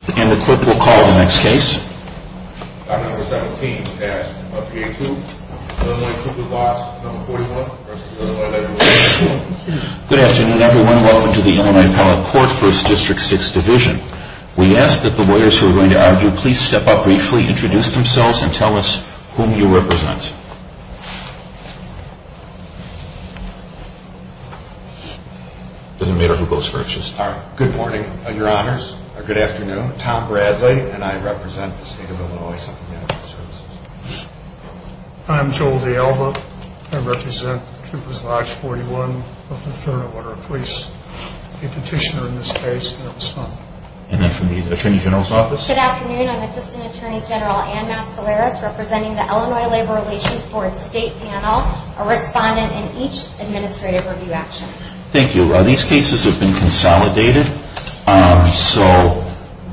Good afternoon everyone, welcome to the Illinois Appellate Court, 1st District, 6th Division. We ask that the lawyers who are going to argue please step up briefly, introduce themselves, and tell us whom you represent. Good morning, and your honors. Good afternoon, I'm Tom Bradley, and I represent the state of Illinois. I'm Joel DeAlbert, and I represent Troopers Lodge No. 41 v. Illinois Labor Rekaions Rd. Good afternoon, I'm Assistant Attorney General Ann Macalera, representing the Illinois Labor Rekaions Board State Panel, a respondent in each administrative review action. Thank you. These cases have been consolidated, so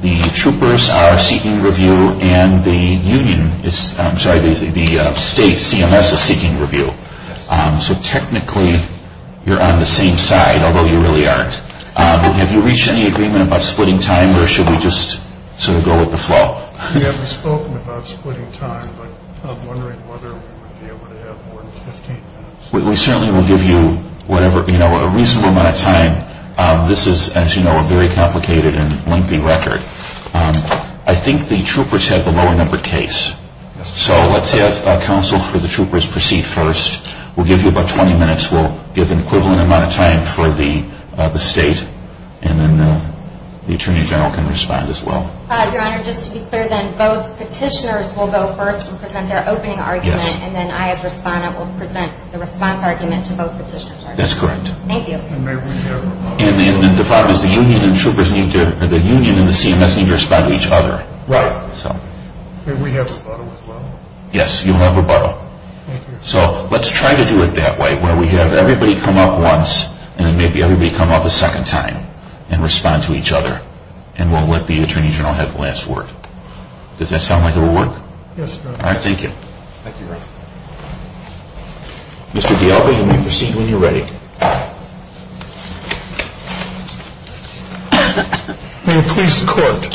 the troopers are seeking review, and the state CMS is seeking review. So technically, you're on the same side, although you really aren't. Have you reached any agreement about splitting time, or should we just sort of go with the flow? We haven't spoken about splitting time, but I'm wondering whether we would be able to have more than 15 minutes. We certainly will give you a reasonable amount of time. This is, as you know, a very complicated and lengthy record. I think the troopers have the lower number case, so let's have counsel for the troopers proceed first. We'll give you about 20 minutes. We'll give an equivalent amount of time for the state, and then the attorney general can respond as well. Your honor, just to be clear, then both petitioners will go first and present their opening argument, and then I, as a respondent, will present the response argument to both petitioners. That's correct. Thank you. And then the problem is the union and the CMS need to respond to each other. Right. May we have a bottle as well? Yes, you'll have a bottle. Thank you. So let's try to do it that way, where we have everybody come up once, and then maybe everybody come up a second time and respond to each other, and we'll let the attorney general have the last word. Does that sound like it will work? Yes, it does. All right, thank you. Thank you, your honor. Mr. DeAlva, you may proceed when you're ready. May it please the court,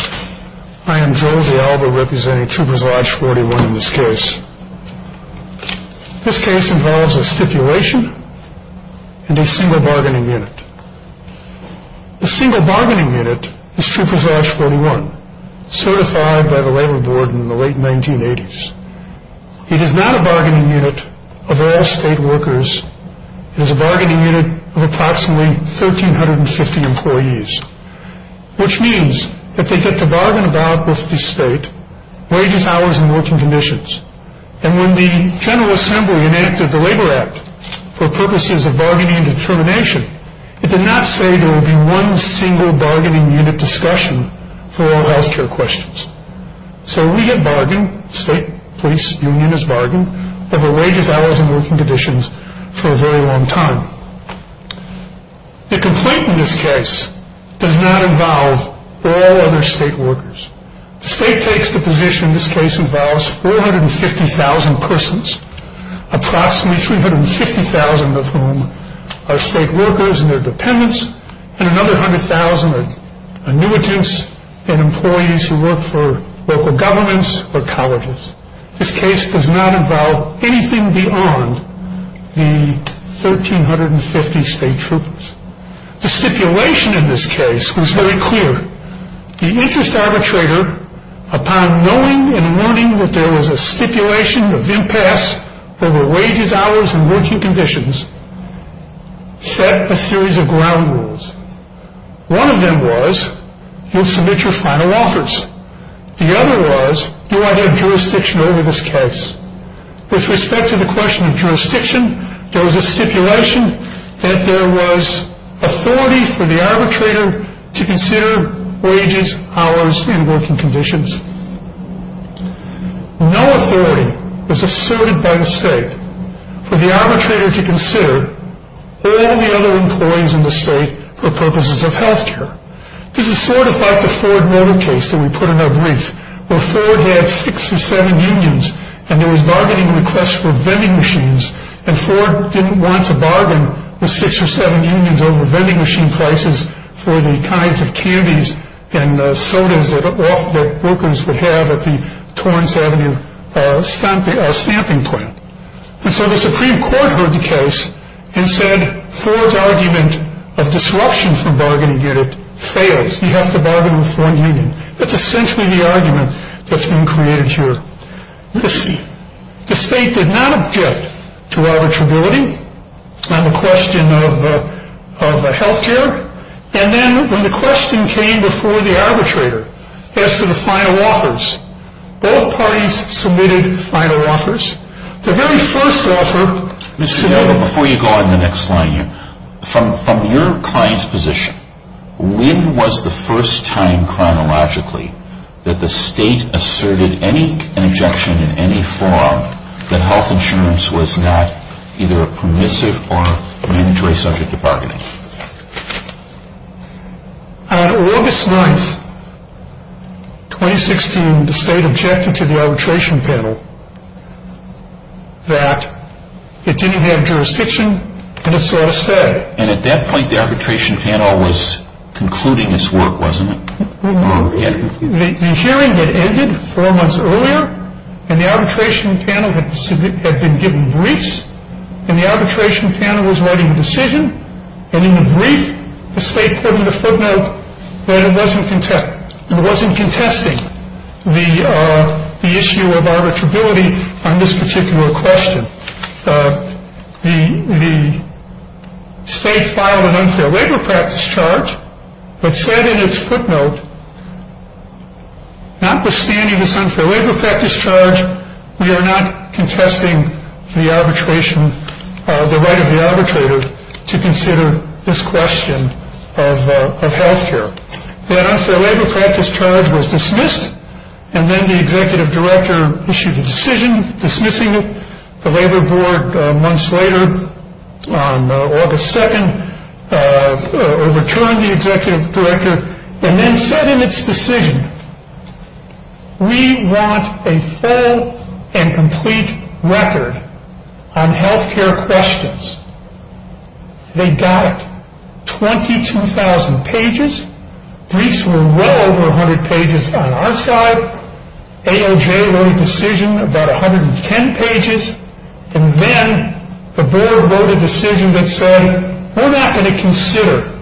I am Joe DeAlva representing Troopers Lodge 41 in this case. This case involves a stipulation and a single bargaining unit. The single bargaining unit is Troopers Lodge 41, certified by the labor board in the late 1980s. It is not a bargaining unit of all state workers. It is a bargaining unit of approximately 1,350 employees, which means that they get to bargain about with the state, wages, hours, and working conditions. And when the General Assembly enacted the Labor Act for purposes of bargaining and determination, it did not say there would be one single bargaining unit discussion for all health care questions. So we get bargained, the state police union is bargained over wages, hours, and working conditions for a very long time. The complaint in this case does not involve all other state workers. The state takes the position this case involves 450,000 persons, approximately 250,000 of whom are state workers and their dependents, and another 100,000 are annuitants and employees who work for local governments or colleges. This case does not involve anything beyond the 1,350 state troopers. The stipulation in this case was very clear. The interest arbitrator, upon knowing and noting that there was a stipulation of impasse over wages, hours, and working conditions, set a series of ground rules. One of them was, you'll submit your final offers. The other was, you are their jurisdiction over this case. With respect to the question of jurisdiction, there was a stipulation that there was authority for the arbitrator to consider wages, hours, and working conditions. No authority was asserted by the state for the arbitrator to consider all the other employees in the state for purposes of health care. This is sort of like the Ford Motor case that we put in our brief, where Ford had six or seven unions, and there was bargaining requests for vending machines, and Ford didn't want to bargain with six or seven unions over vending machine prices for the kinds of candies and sodas that workers would have at the Torrance Avenue stamping point. And so the Supreme Court heard the case and said, Ford's argument of disruption from bargaining here fails. You have to bargain with one union. That's essentially the argument that's been created here. The state did not object to arbitrability on the question of health care. And then when the question came before the arbitrator as to the final offers, all parties submitted final offers. The very first offer... Before you go on to the next slide, from your client's position, when was the first time chronologically that the state asserted any objection in any form that health insurance was not either permissive or an injury subject to bargaining? On August 9th, 2016, the state objected to the arbitration panel that it didn't have jurisdiction and it's all static. And at that point, the arbitration panel was concluding its work, wasn't it? The hearing had ended four months earlier, and the arbitration panel had been given briefs, and the arbitration panel was writing a decision, and in the brief, the state put in the footnote that it wasn't contesting the issue of arbitrability on this particular question. The state filed an unfair labor practice charge, but said in its footnote, notwithstanding this unfair labor practice charge, we are not contesting the arbitration, the right of the arbitrator, to consider this question of health care. That unfair labor practice charge was dismissed, and then the executive director issued a decision dismissing it. The labor board, months later, on August 2nd, returned the executive director and then said in its decision, we want a full and complete record on health care questions. They got 22,000 pages. Briefs were well over 100 pages on our side. AOJ wrote a decision about 110 pages, and then the board wrote a decision that said, we're not going to consider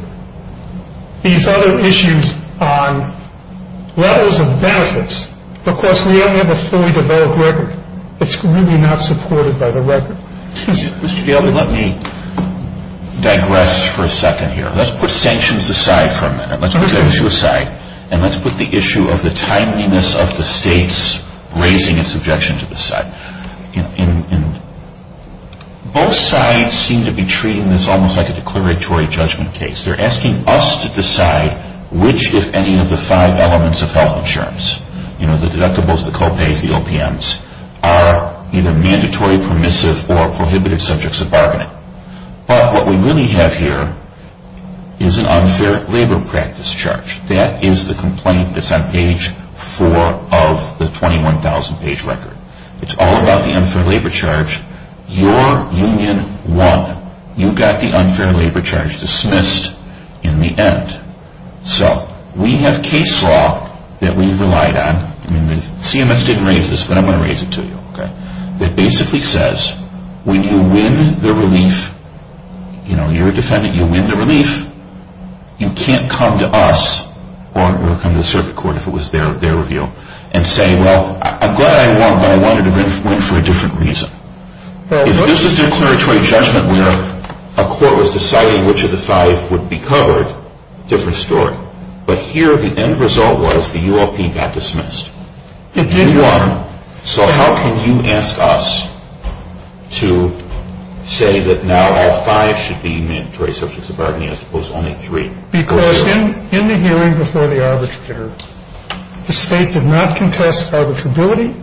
these other issues on levels of benefits because we only have a fully developed record. It's really not supported by the record. Let me digress for a second here. Let's put sanctions aside for a minute. Let's put that issue aside, and let's put the issue of the timeliness of the states raising its objections to this side. Both sides seem to be treating this almost like a declaratory judgment case. They're asking us to decide which, if any, of the five elements of health insurance, the deductibles, the copay, the OPMs, are either mandatory, permissive, or prohibitive subjects of borrowing. But what we really have here is an unfair labor practice charge. That is the complaint that's on page four of the 21,000-page record. It's all about the unfair labor charge. Your union won. You got the unfair labor charge dismissed in the end. So we have case law that we've relied on. CMS didn't raise this, but I'm going to raise it to you. It basically says when you win the relief, you're a defendant. You win the relief. You can't come to us or come to the circuit court, if it was their review, and say, well, I'm glad I won, but I wanted to win for a different reason. If this is a declaratory judgment where a court was deciding which of the five would be covered, different story. But here the end result was the UOP got dismissed. If you won, so how can you ask us to say that now all five should be mandatory subjects of borrowing, as opposed to only three? Because in the hearing before the arbitrator, the state did not contest arbitrability.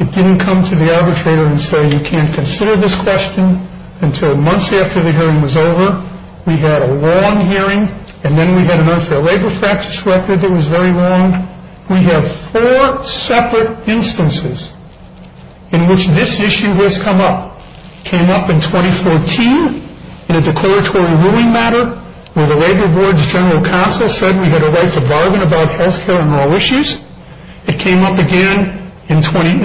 It didn't come to the arbitrator and say you can't consider this question until months after the hearing was over. We had a long hearing, and then we had an unfair labor facts record that was very long. We had four separate instances in which this issue has come up. It came up in 2014 in a declaratory ruling matter where the labor board's general counsel said we had a right to bargain about health care and all issues. It came up again in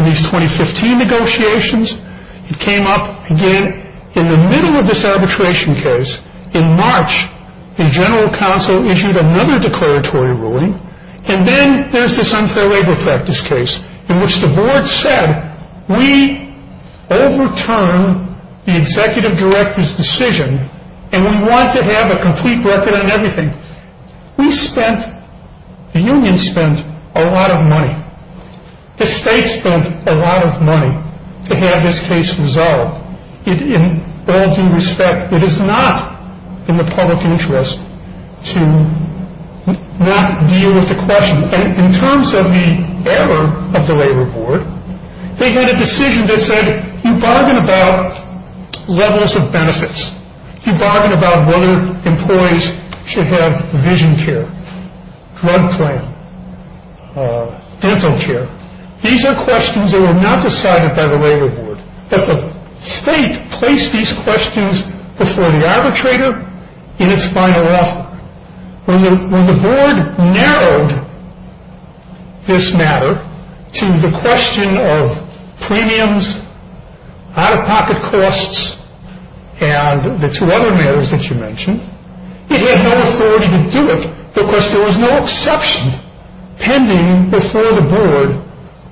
these 2015 negotiations. It came up again in the middle of this arbitration case. In March, the general counsel issued another declaratory ruling, and then there's this unfair labor practice case in which the board said we overturn the executive director's decision, and we want to have a complete record on everything. We spent, the union spent, a lot of money. The state spent a lot of money to have this case resolved. In all due respect, it is not in the public interest to not deal with the question. In terms of the error of the labor board, they made a decision that said you bargain about levels of benefits. You bargain about whether employees should have vision care, drug claim, dental care. These are questions that were not decided by the labor board, but the state placed these questions before the arbitrator in its final offer. When the board narrowed this matter to the question of premiums, out-of-pocket costs, and the two other matters that you mentioned, it had no authority to do it because there was no exception pending before the board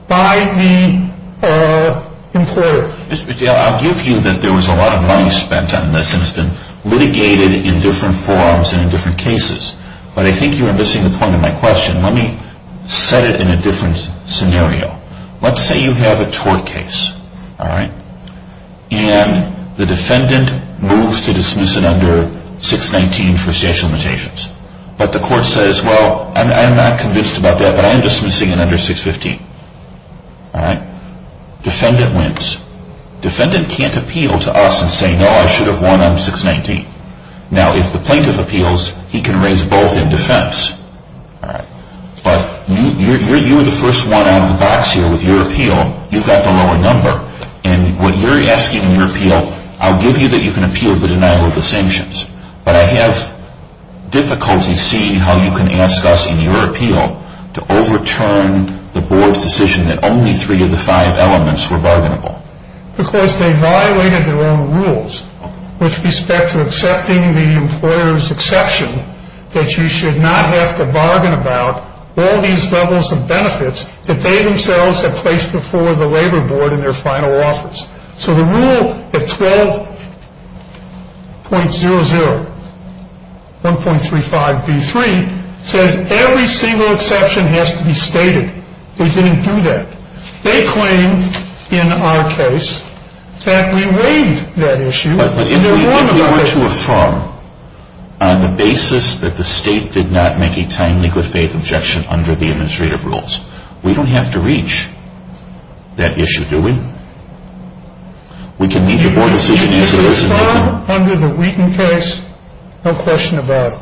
by the employer. I'll give you that there was a lot of money spent on this, and it's been litigated in different forms and in different cases, but I think you're missing the point of my question. Let me set it in a different scenario. Let's say you have a tort case, and the defendant moves to dismiss it under 619 for state limitations. But the court says, well, I'm not convinced about that, but I'm dismissing it under 615. Defendant wins. Defendant can't appeal to us and say, no, I should have won under 619. Now, if the plaintiff appeals, he can raise both in defense. But you're the first one on the box here with your appeal. You've got the lower number, and what you're asking in your appeal, I'll give you that you can appeal the denial of the sanctions, but I have difficulty seeing how you can ask us in your appeal to overturn the board's decision that only three of the five elements were vulnerable. Because they violated their own rules with respect to accepting the employer's exception that you should not have to bargain about all these doubles of benefits that they themselves have placed before the labor board in their final office. So the rule at 12.00, 1.35d3, says every single exception has to be stated. We didn't do that. They claim, in our case, that we weighed that issue. We weighed the issue of Trump on the basis that the state did not make a timely good-faith objection under the administrative rules. We don't have to reach that issue, do we? We can meet the board's decision easily. Under the Wheaton case, no question about it.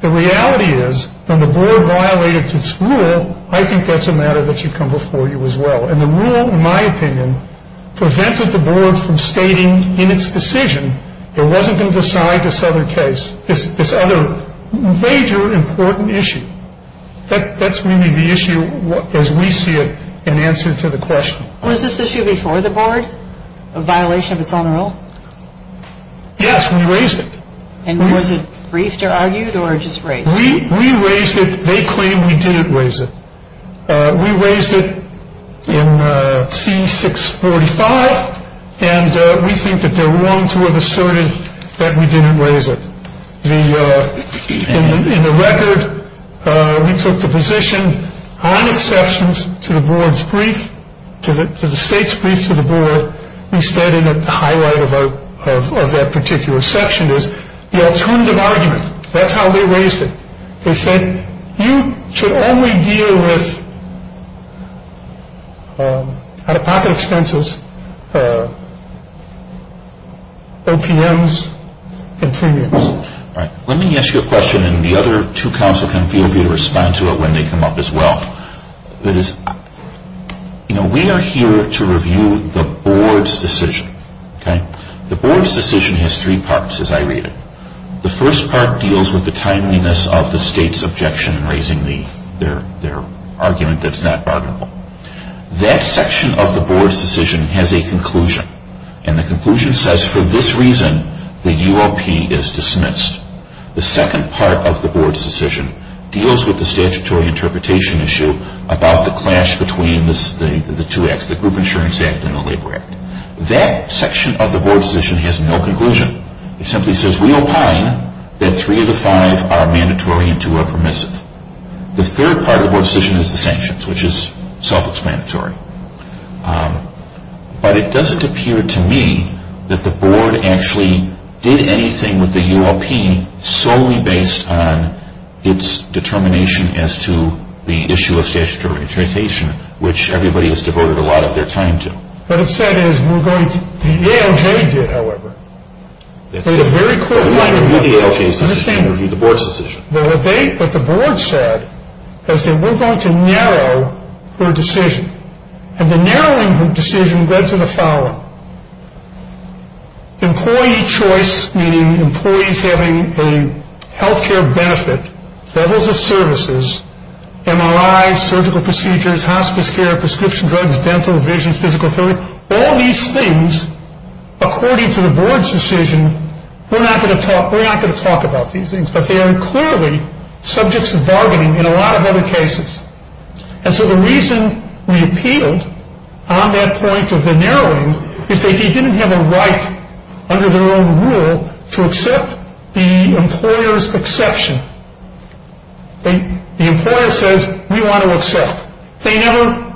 The reality is, when the board violated its rule, I think that's a matter that should come before you as well. And the rule, in my opinion, prevented the board from stating in its decision that it wasn't going to decide this other case, this other major important issue. That's really the issue as we see it in answer to the question. Was this issue before the board, a violation of its own rule? Yes, we raised it. And was it briefed or argued or just raised? We raised it. They claim we didn't raise it. We raised it in C-645, and we think that they're wrong to have asserted that we didn't raise it. In the record, we took the position on exceptions to the board's brief, to the state's brief to the board. We stated that the highlight of that particular section is the alternative argument. That's how they raised it. They said you should only deal with out-of-pocket expenses, OPMs, and premiums. Let me ask you a question, and the other two counsel can feel free to respond to it when they come up as well. That is, we are here to review the board's decision. The board's decision has three parts, as I read it. The first part deals with the timeliness of the state's objection in raising their argument that's not arguable. That section of the board's decision has a conclusion, and the conclusion says, for this reason, the UOP is dismissed. The second part of the board's decision deals with the statutory interpretation issue about the clash between the two acts, the Group Insurance Act and the Labor Act. That section of the board's decision has no conclusion. It simply says we opine that three of the five are mandatory and two are permissive. The third part of the board's decision is the sanctions, which is self-explanatory. But it doesn't appear to me that the board actually did anything with the UOP solely based on its determination as to the issue of statutory interpretation, which everybody has devoted a lot of their time to. What it said is the ALJ did, however. They had a very close line of work. They reviewed the ALJ's decision. They reviewed the board's decision. What the board said was that we're going to narrow their decision. And the narrowing of the decision led to the following. Employee choice, meaning employees having a health care benefit, levels of services, MRIs, surgical procedures, hospital care, prescription drugs, dental, vision, physical therapy, all these things, according to the board's decision, we're not going to talk about these things. But they are clearly subjects of bargaining in a lot of other cases. And so the reason we appealed on that point of the narrowing is they didn't have a right under their own rule to accept the employer's exception. The employer says, we want to accept. They never,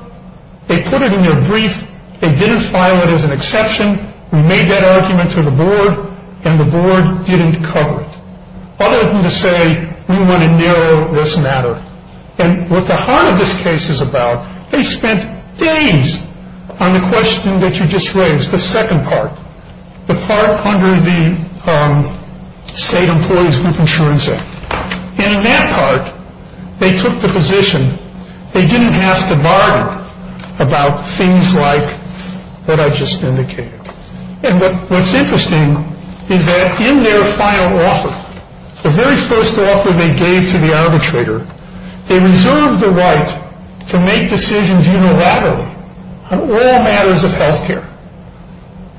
they put it in their brief. They didn't file it as an exception. We made that argument to the board, and the board didn't cover it. All of them to say, we want to narrow this matter. And what the heart of this case is about, they spent days on the question that you just raised, the second part, the part under the State Employees with Insurance Act. And in that part, they took the position, they didn't have to bargain about things like what I just indicated. And what's interesting is that in their final offer, the very first offer they gave to the arbitrator, they reserved the right to make decisions unilaterally on all matters of health care.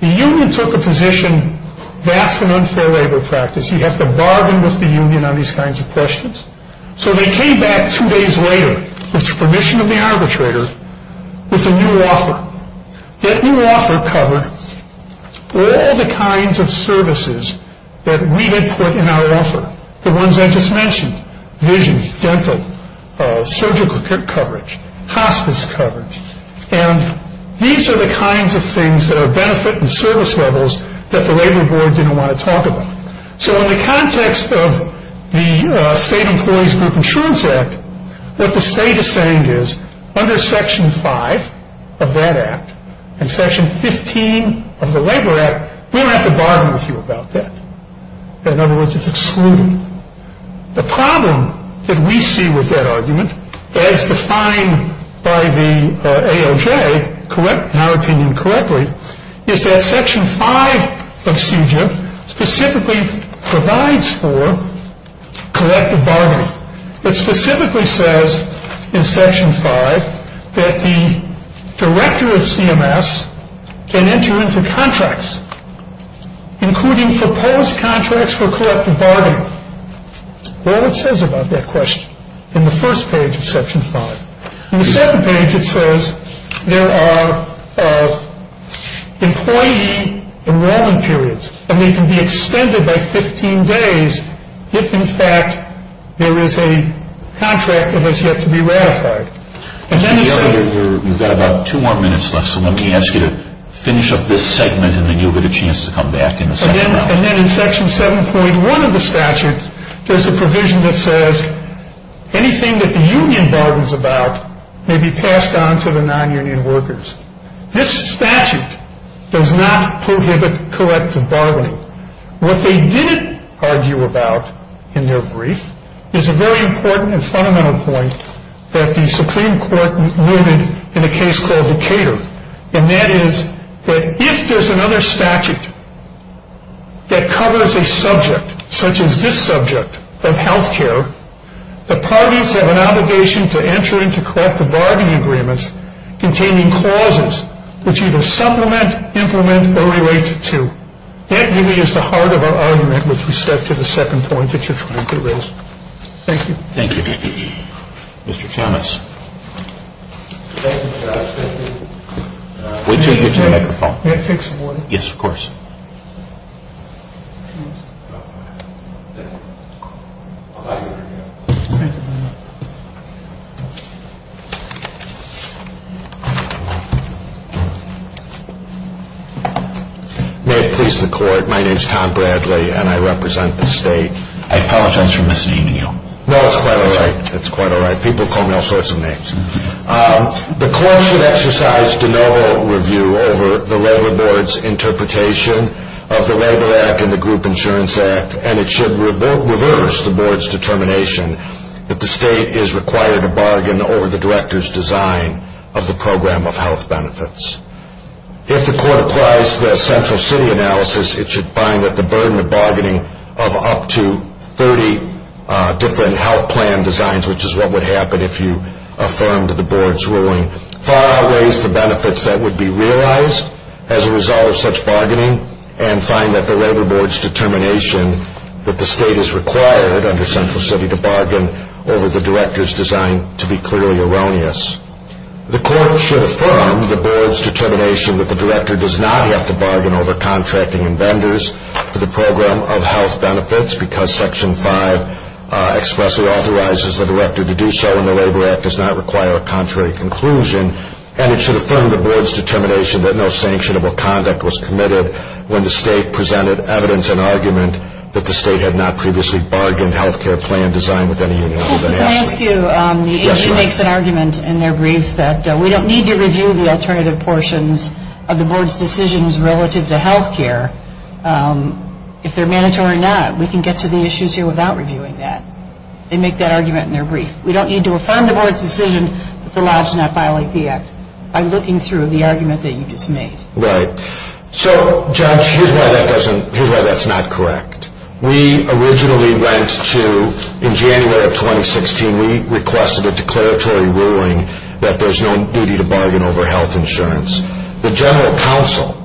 The union took the position, that's an unfair labor practice. You have to bargain with the union on these kinds of questions. So they came back two days later, with the permission of the arbitrator, with a new offer. That new offer covered all the kinds of services that we had put in our offer, the ones I just mentioned, vision, dental, surgical tip coverage, hospice coverage. And these are the kinds of things that are benefit and service levels that the labor board didn't want to talk about. So in the context of the State Employees with Insurance Act, what the state is saying is, under Section 5 of that act, and Section 15 of the Labor Act, we don't have to bargain with you about that. In other words, it's excluded. The problem that we see with that argument, as defined by the AOJ, in our opinion, correctly, is that Section 5 of CJA specifically provides for collective bargaining. It specifically says in Section 5 that the director of CMS can enter into contracts, including proposed contracts for collective bargaining. That's all it says about that question in the first page of Section 5. In the second page, it says there are employee enrollment periods, and they can be extended by 15 days if, in fact, there is a contract that has yet to be ratified. You've got about two more minutes left, so let me ask you to finish up this segment, and then you'll get a chance to come back in the second half. And then in Section 7.1 of the statute, there's a provision that says anything that the union bargains about may be passed on to the non-union workers. This statute does not prohibit collective bargaining. What they didn't argue about in their brief is a very important and fundamental point that the Supreme Court made in a case called Decatur, and that is that if there's another statute that covers a subject such as this subject of health care, the parties have an obligation to enter into collective bargaining agreements containing clauses which either supplement, implement, or relate to. That really is the heart of our argument with respect to the second point that you're trying to raise. Thank you. Thank you. Mr. Thomas. May I take some more? Yes, of course. May it please the Court, my name is Tom Bradley, and I represent the state. I apologize for misnaming you. No, it's quite all right. It's quite all right. People call me all sorts of names. The Court should exercise denial of review over the Labor Board's interpretation of the Labor Act and the Group Insurance Act, and it should reverse the Board's determination that the state is required to bargain over the director's design of the program of health benefits. If the Court applies the central city analysis, it should find that the burden of bargaining of up to 30 different health plan designs, which is what would happen if you affirmed the Board's ruling, far outweighs the benefits that would be realized as a result of such bargaining and find that the Labor Board's determination that the state is required under central city to bargain over the director's design to be clearly erroneous. The Court should affirm the Board's determination that the director does not have to bargain over contracting and vendors for the program of health benefits because Section 5 expressly authorizes the director to do so and the Labor Act does not require a contrary conclusion, and it should affirm the Board's determination that no sanctionable conduct was committed when the state presented evidence and argument that the state had not previously bargained health care plan design with any union. The agency makes an argument in their brief that we don't need to review the alternative portions of the Board's decisions relative to health care. If they're mandatory or not, we can get to the issues here without reviewing that. They make that argument in their brief. We don't need to affirm the Board's decision to allow us to not file APX. I'm looking through the argument that you just made. Right. So, Josh, here's why that's not correct. We originally went to, in January of 2016, we requested a declaratory ruling that there's no need to bargain over health insurance. The general counsel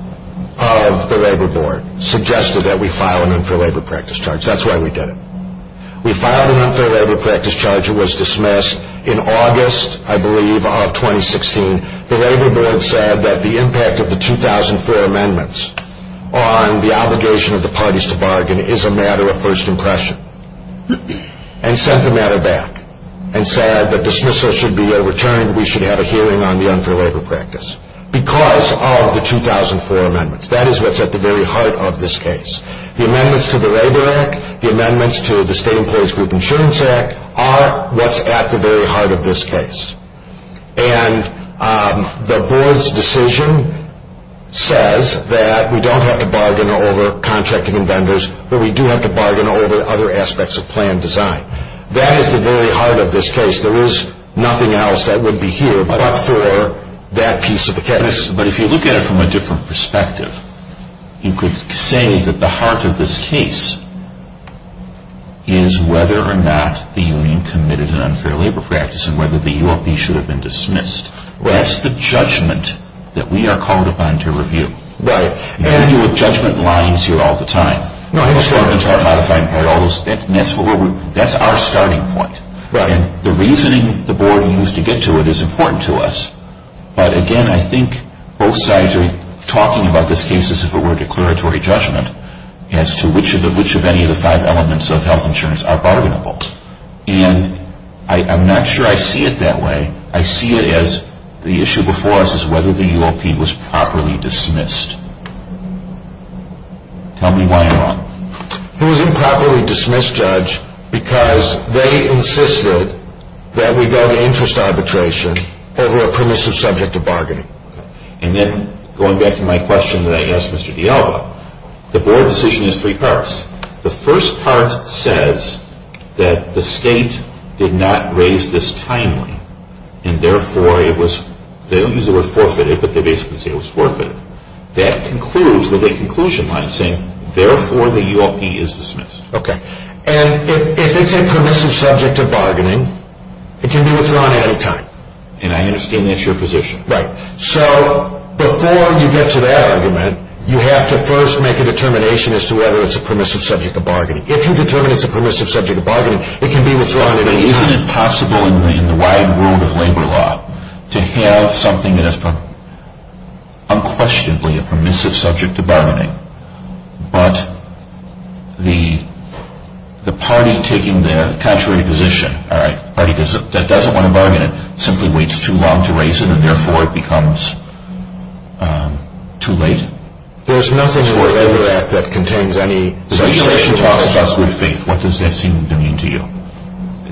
of the Labor Board suggested that we file an unfair labor practice charge. That's why we did it. We filed an unfair labor practice charge. It was dismissed in August, I believe, of 2016. The Labor Board said that the impact of the 2004 amendments on the obligation of the parties to bargain is a matter of first impression. And sent the matter back and said that dismissal should be overturned. We should have a hearing on the unfair labor practice because of the 2004 amendments. That is what's at the very heart of this case. The amendments to the Labor Act, the amendments to the State Employees Group Insurance Act, are what's at the very heart of this case. And the board's decision says that we don't have to bargain over contracting and vendors, but we do have to bargain over other aspects of plan design. That is at the very heart of this case. There is nothing else that would be here but for that piece of the case. But if you look at it from a different perspective, you could say that the heart of this case is whether or not the union committed an unfair labor practice and whether the UOP should have been dismissed. That's the judgment that we are called upon to review. And the judgment lies here all the time. Not all the time. That's our starting point. The reasoning the board used to get to it is important to us. But again, I think both sides are talking about this case as if it were a declaratory judgment as to which of any of the five elements of health insurance are bargainable. And I'm not sure I see it that way. I see it as the issue before us is whether the UOP was properly dismissed. Tell me why not. It was improperly dismissed, Judge, because they insisted that we go to interest arbitration over a permissive subject of bargaining. And then, going back to my question that I asked Mr. Diallo, the board decision is three parts. The first part says that the state did not raise this timely, and therefore it was—they don't use the word forfeited, but they basically say it was forfeited. That concludes with a conclusion line saying, therefore, the UOP is dismissed. Okay. And if it's a permissive subject of bargaining, it can be withdrawn at a time. And I understand that's your position. Right. So, before you get to that argument, you have to first make a determination as to whether it's a permissive subject of bargaining. If you determine it's a permissive subject of bargaining, it can be withdrawn at a time. Isn't it possible in the wider world of labor law to have something that is unquestionably a permissive subject of bargaining, but the party taking their contrary position, a party that doesn't want to bargain, and that simply waits too long to raise it, and therefore it becomes too late? There's nothing in the Labor Act that contains any— You said you talked about good faith. What does that seem to mean to you?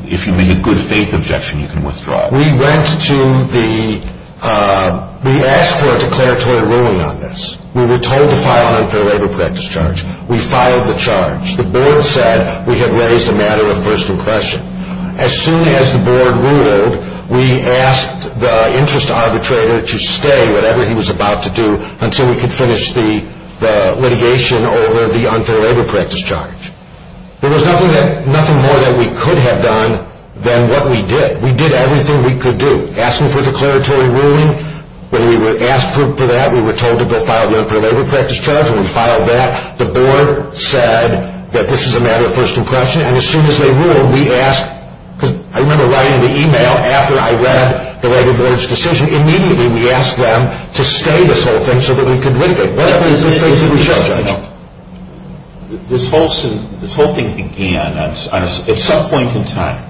If you made a good faith objection, you can withdraw it. We went to the—we asked for a declaratory ruling on this. We were told to file a labor practice charge. We filed the charge. The board said we had raised a matter of personal question. As soon as the board ruled, we asked the interest arbitrator to stay, whatever he was about to do, until we could finish the litigation over the unfair labor practice charge. There was nothing more that we could have done than what we did. We did everything we could do, asking for a declaratory ruling. When we were asked for that, we were told to go file the unfair labor practice charge, and we filed that. The board said that this is a matter of personal question, and as soon as they ruled, we asked— I remember writing the email after I read the labor judge's decision. Immediately, we asked them to stay this whole thing so that we could leave it. That was the situation. This whole thing began at some point in time.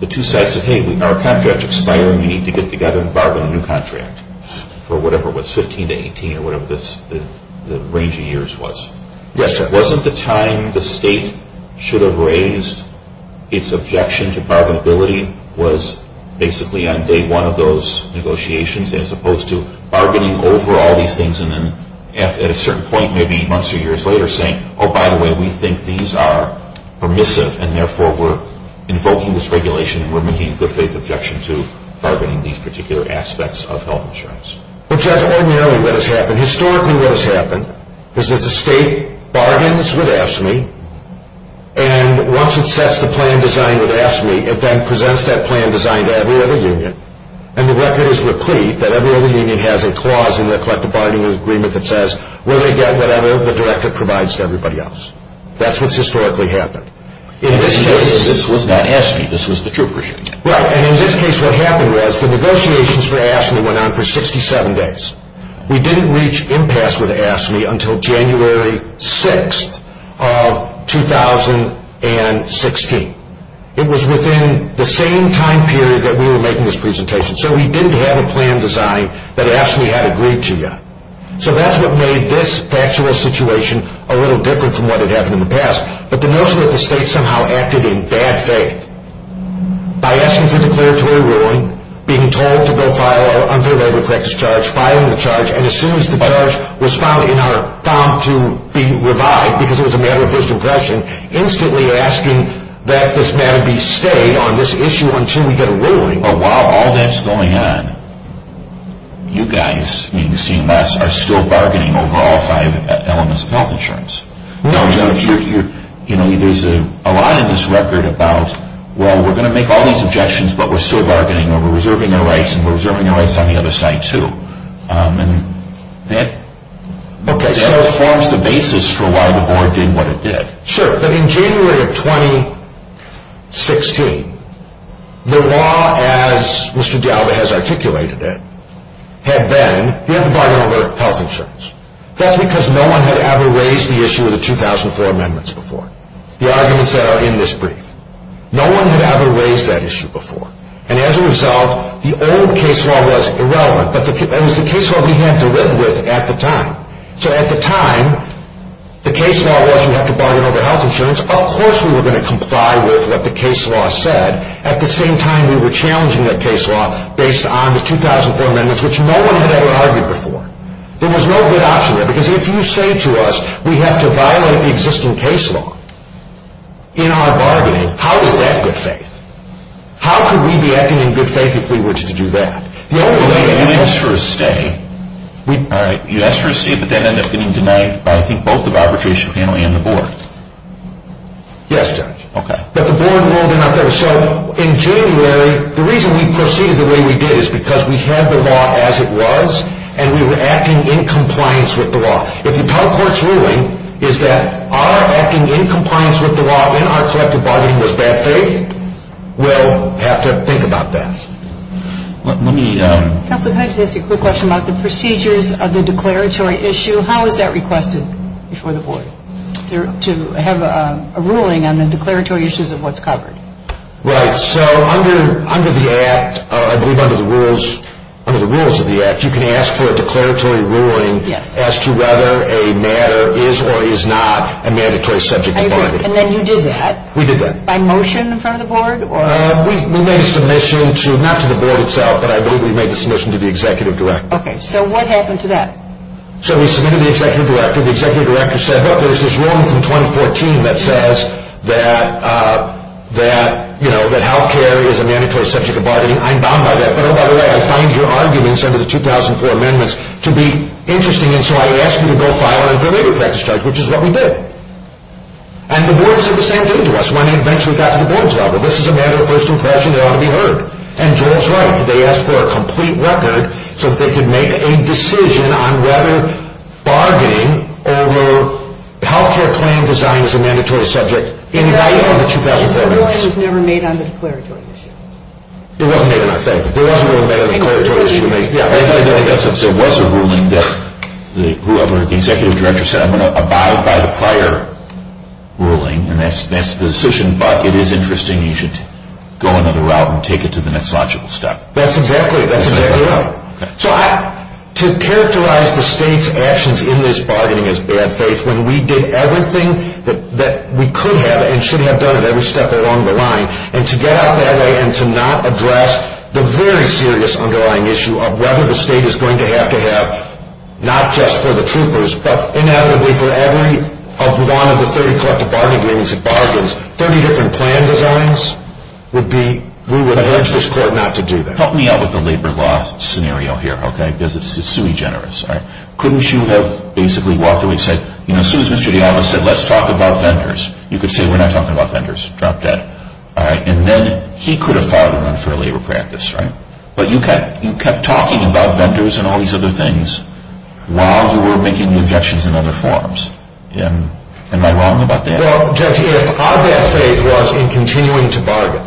The two sides said, hey, our contract's expiring. We need to get together and bargain a new contract for whatever it was, 15 to 18, or whatever the range of years was. Yes, sir. Wasn't the time the state should have raised its objection to bargainability was basically on day one of those negotiations, as opposed to bargaining over all these things, and then at a certain point, maybe months or years later, saying, oh, by the way, we think these are permissive, and therefore we're invoking this regulation, and we're making good faith objections to bargaining these particular aspects of health insurance. In fact, in reality, what has happened, historically what has happened, is that the state bargains with AFSCME, and once it sets the plan design with AFSCME, it then presents that plan design to every other union, and the record is replete that every other union has a clause in their collective bargaining agreement that says, when they get that out of the door, it provides to everybody else. That's what's historically happened. In this case, this was not AFSCME, this was the troop regime. Right, and in this case, what happened was the negotiations with AFSCME went on for 67 days. We didn't reach impasse with AFSCME until January 6th of 2016. It was within the same time period that we were making this presentation, so we didn't have a plan design that AFSCME had agreed to yet. So that's what made this actual situation a little different from what had happened in the past, but the notion that the state somehow acted in bad faith by asking for declaratory ruling, being told to go file our undelivered practice charge, filing the charge, and as soon as the charge was filed, you know, found to be revived because it was a matter of just aggression, instantly asking that this matter be stayed on this issue until we get a ruling. But while all that's going on, you guys, even CMOS, are still bargaining over all five elements of public insurance. You know, there's a lot in this record about, well, we're going to make all these objections, but we're still bargaining, and we're reserving our rights, and we're reserving our rights on the other side too. And that still forms the basis for why the board did what it did. Sure, but in January of 2016, the law, as Mr. Gowda has articulated it, had been in violation of public insurance. That's because no one had ever raised the issue of the 2004 amendments before. The arguments that are in this brief. No one had ever raised that issue before. And as a result, the old case law was irrelevant, and it was the case law we had to live with at the time. So at the time, the case law wasn't like a bargain over health insurance. Of course we were going to comply with what the case law said. At the same time, we were challenging that case law based on the 2004 amendments, which no one had ever argued before. There was no good option, because if you say to us, we have to violate the existing case law in our bargaining, how is that good faith? How could we be acting in good faith if we were to do that? You asked for a stay. You asked for a stay, but that ended up getting denied by I think both the arbitration panel and the board. Yes, Judge. But the board did not go. So in January, the reason we proceeded the way we did is because we had the law as it was, and we were acting in compliance with the law. If the public court's ruling is that our acting in compliance with the law in our collective bargaining was bad faith, we'll have to think about that. Let me... Counselor, can I just ask you a quick question about the procedures of the declaratory issue? How is that requested before the board to have a ruling on the declaratory issues of what's covered? Right. So under the act, I believe under the rules of the act, you can ask for a declaratory ruling as to whether a matter is or is not a mandatory subject matter. And then you did that? We did that. By motion from the board? We made a submission to, not to the board itself, but I believe we made the submission to the executive director. Okay. So what happened to that? So we submitted to the executive director. Well, there's this rule in 2014 that says that health care is a mandatory subject of bargaining. I'm not like that. By the way, I find your arguments under the 2004 amendments to be interesting, and so I asked you to go file an information protection charge, which is what we did. And the board said the same thing to us. My name makes me the captain of the board of trust. If this is a matter of personal passion, it ought to be heard. And Joel's right. They asked for a complete record so that they could make a decision on whether bargaining over health care plan design is a mandatory subject in violation of the 2004 amendments. The ruling was never made on the declaratory issue. It wasn't made on the declaratory issue. It wasn't made on the declaratory issue. Yeah. And I know Justin said, what's the ruling that whoever the executive director said, I'm going to abide by the prior ruling, and that's the decision, but it is interesting. You should go another route and take it to the next logical step. That's exactly right. So to characterize the state's actions in this bargaining as bad faith, when we did everything that we could have and should have done every step along the line, and to get out that way and to not address the very serious underlying issue of whether the state is going to have to have, not just for the troopers, but inevitably for every one of the 30 collective bargaining meetings it bargains, 30 different plan designs would be, we would urge this court not to do this. Help me out with the labor law scenario here, okay, because it's sui generis. Couldn't you have basically walk away and said, you know, as soon as Mr. Gallo said let's talk about vendors, you could say we're not talking about vendors. Drop that. And then he could have filed a run for labor practice, right? But you kept talking about vendors and all these other things while you were making objections in other forms. Am I wrong about that? Well, our bad faith was in continuing to bargain.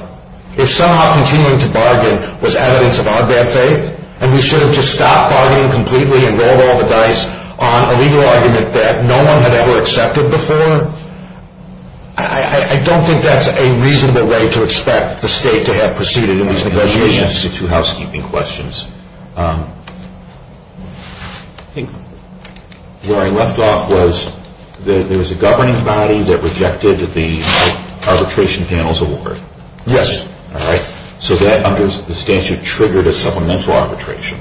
If somehow continuing to bargain was evidence of our bad faith, and we should have just stopped bargaining completely and rolled all the dice on a legal argument that no one had ever accepted before, I don't think that's a reasonable way to expect the state to have proceeded in these negotiations. I have two housekeeping questions. Where I left off was there was a governing body that rejected the arbitration panels award. Yes. All right. So that under the statute triggered a supplemental arbitration.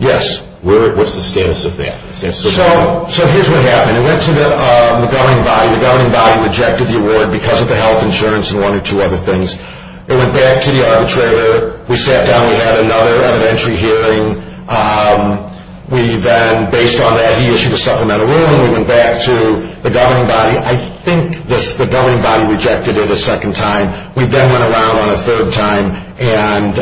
Yes. Where was the status of that? So here's what happened. It went to the governing body. The governing body rejected the award because of the health insurance and one or two other things. It went back to the arbitrator. We sat down. We had another evidentiary hearing. We then, based on that, issued a supplemental ruling. We went back to the governing body. I think the governing body rejected it a second time. We then went around on a third time and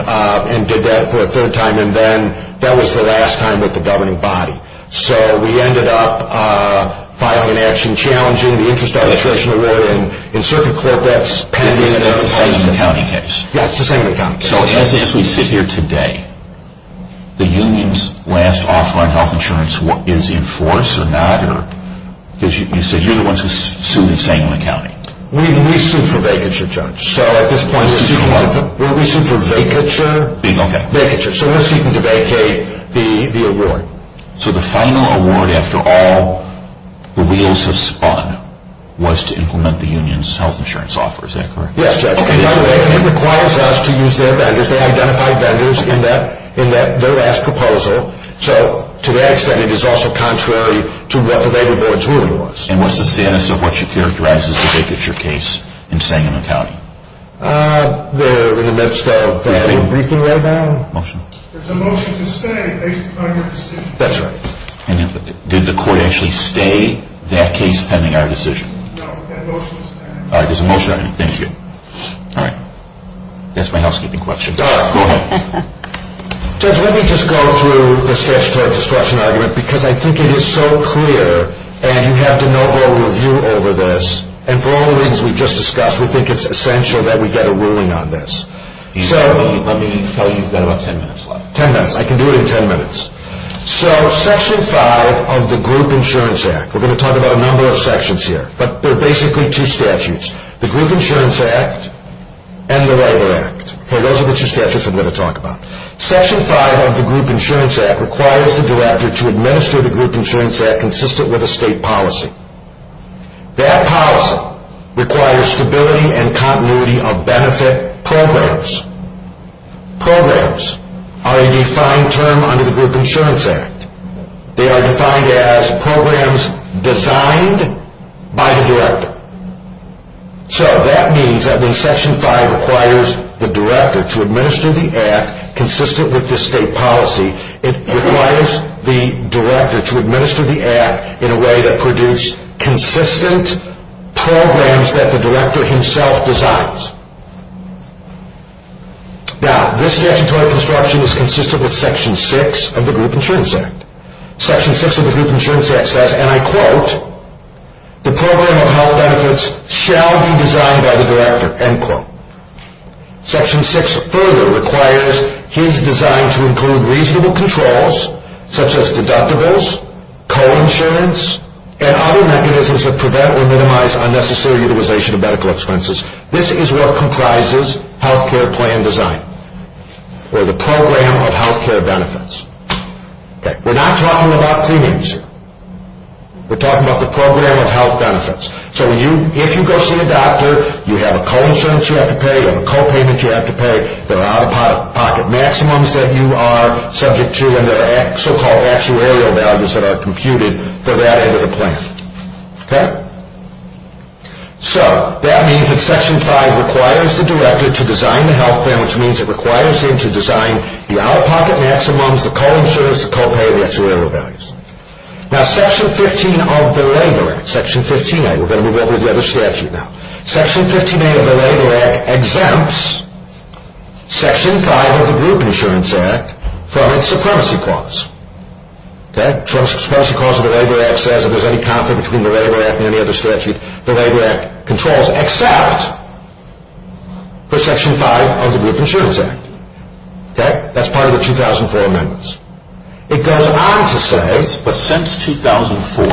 did that for a third time. And then that was the last time with the governing body. So we ended up filing an action challenging the interest arbitration award. That's pending in the county case. Yes, the second time. So as we sit here today, the union's last offer on health insurance is in force or not? You said you're the one who's suing the state and the county. We sued for vacature, Judge. So at this point we're suing for what? We're suing for vacature. Vacature. So we're seeking to vacate the award. So the final award after all the wheels have spun was to implement the union's health insurance offer. Is that correct? Yes, Judge. I didn't promise us to use that. I just identified vendors in that last proposal. So to that extent, it is also contrary to what the vagrant board's ruling was. And what's the fairness of what you characterize as a vacature case in saying in the county? They're in that style of thing. Are you briefing right now? Motion. There's a motion to stay based upon your decision. That's right. Did the court actually stay that case pending our decision? No, but that motion is there. All right. There's a motion. Thank you. All right. That's my housekeeping questions. All right. Go ahead. Judge, let me just go through the statutory discussion argument because I think it is so clear. And you have to know how we review over this. And for all the reasons we just discussed, we think it's essential that we get a ruling on this. I can tell you in about ten minutes. Ten minutes. I can do it in ten minutes. So Section 5 of the Group Insurance Act, we're going to talk about a number of sections here, but they're basically two statutes. The Group Insurance Act and the Letter Act. Okay, those are the two statutes we're going to talk about. Section 5 of the Group Insurance Act requires the director to administer the Group Insurance Act consistent with a state policy. That policy requires stability and continuity of benefit programs. Programs are a defined term under the Group Insurance Act. They are defined as programs designed by the director. So that means that then Section 5 requires the director to administer the act consistent with the state policy. It requires the director to administer the act in a way that produces consistent programs that the director himself designs. Now, this statutory instruction is consistent with Section 6 of the Group Insurance Act. Section 6 of the Group Insurance Act says, and I quote, the program of held benefits shall be designed by the director, end quote. Section 6 further requires his design to include reasonable controls such as deductibles, co-insurance, and other mechanisms that prevent or minimize unnecessary utilization of medical expenses. This is what comprises health care plan design or the program of health care benefits. We're not talking about premiums. We're talking about the program of health benefits. So if you go see a doctor, you have a co-insurance you have to pay, you have a co-pay that you have to pay, there are out-of-pocket maximums that you are subject to, and there are so-called actuarial values that are computed for that end of the plan. Okay? So that means that Section 5 requires the director to design the health plan, which means it requires him to design the out-of-pocket maximums, the co-insurance, the co-pay, and the actuarial values. Now Section 15 of the Labor Act, Section 15A, we're going to move over to the other statute now, Section 15A of the Labor Act exempts Section 5 of the Group Insurance Act from its supremacy clause. Okay? Supremacy clause of the Labor Act says if there's any conflict between the Labor Act and any other statute, the Labor Act controls except for Section 5 of the Group Insurance Act. Okay? That's part of the 2004 amendments. It goes on to say that since 2004,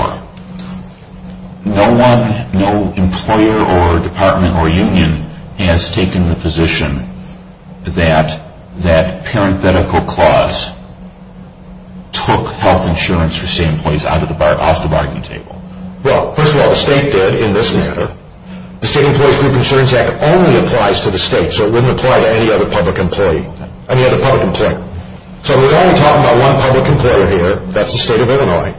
no one, no employer or department or union, has taken the position that that parenthetical clause took health insurance for state employees off the bargaining table. Well, first of all, the state did in this matter. The State Employees Group Insurance Act only applies to the state, so it wouldn't apply to any other public employee, any other public employee. That's right. So we're only talking about one private employer here, that's the state of Illinois.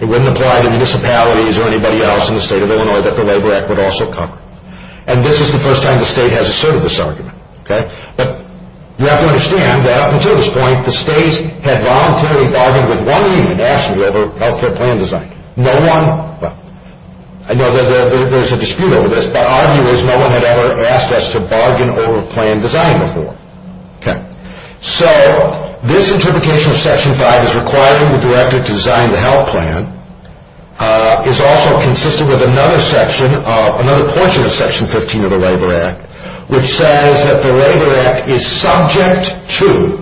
It wouldn't apply to municipalities or anybody else in the state of Illinois that the Labor Act would also cover. And this is the first time the state has asserted this argument. Okay? But you have to understand that up until this point, the states had voluntarily bargained with one union nationally to help their plan design. No one, well, I know there's a dispute over this, but arguably no one had ever asked us to bargain over plan design before. Okay. So this interpretation of Section 5 as requiring the director to design the health plan is also consistent with another section, another portion of Section 15 of the Labor Act, which says that the Labor Act is subject to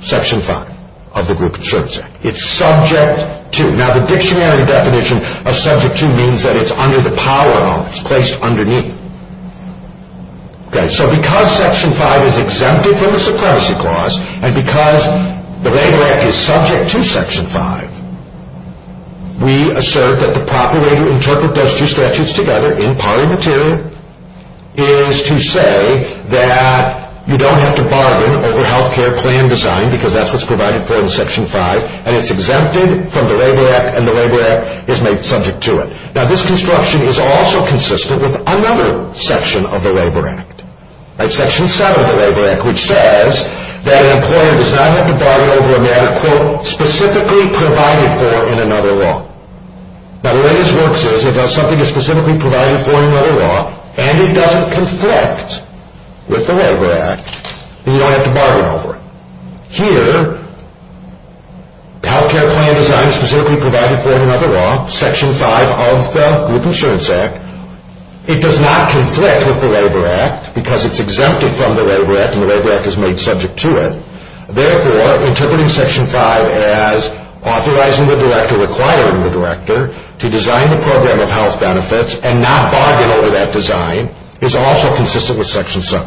Section 5 of the Group Insurance Act. It's subject to. Now, the dictionary definition of subject to means that it's under the power of. It's placed underneath. Okay. So because Section 5 is exempted from the supremacy clause, and because the Labor Act is subject to Section 5, we assert that the proper way to interpret those two statutes together in parliamentary is to say that you don't have to bargain over health care plan design because that's what's provided for in Section 5, and it's exempted from the Labor Act, and the Labor Act is made subject to it. Now, this construction is also consistent with another section of the Labor Act, like Section 7 of the Labor Act, which says that an employer does not have to bargain over a medical specifically provided for in another law. Now, the way this works is if something is specifically provided for in another law and it doesn't conflict with the Labor Act, you don't have to bargain over it. Here, health care plan design specifically provided for in another law, Section 5 of the Group Insurance Act, it does not conflict with the Labor Act because it's exempted from the Labor Act, and the Labor Act is made subject to it. Therefore, interpreting Section 5 as authorizing the director, requiring the director, to design the program of health benefits and not bargain over that design is also consistent with Section 7.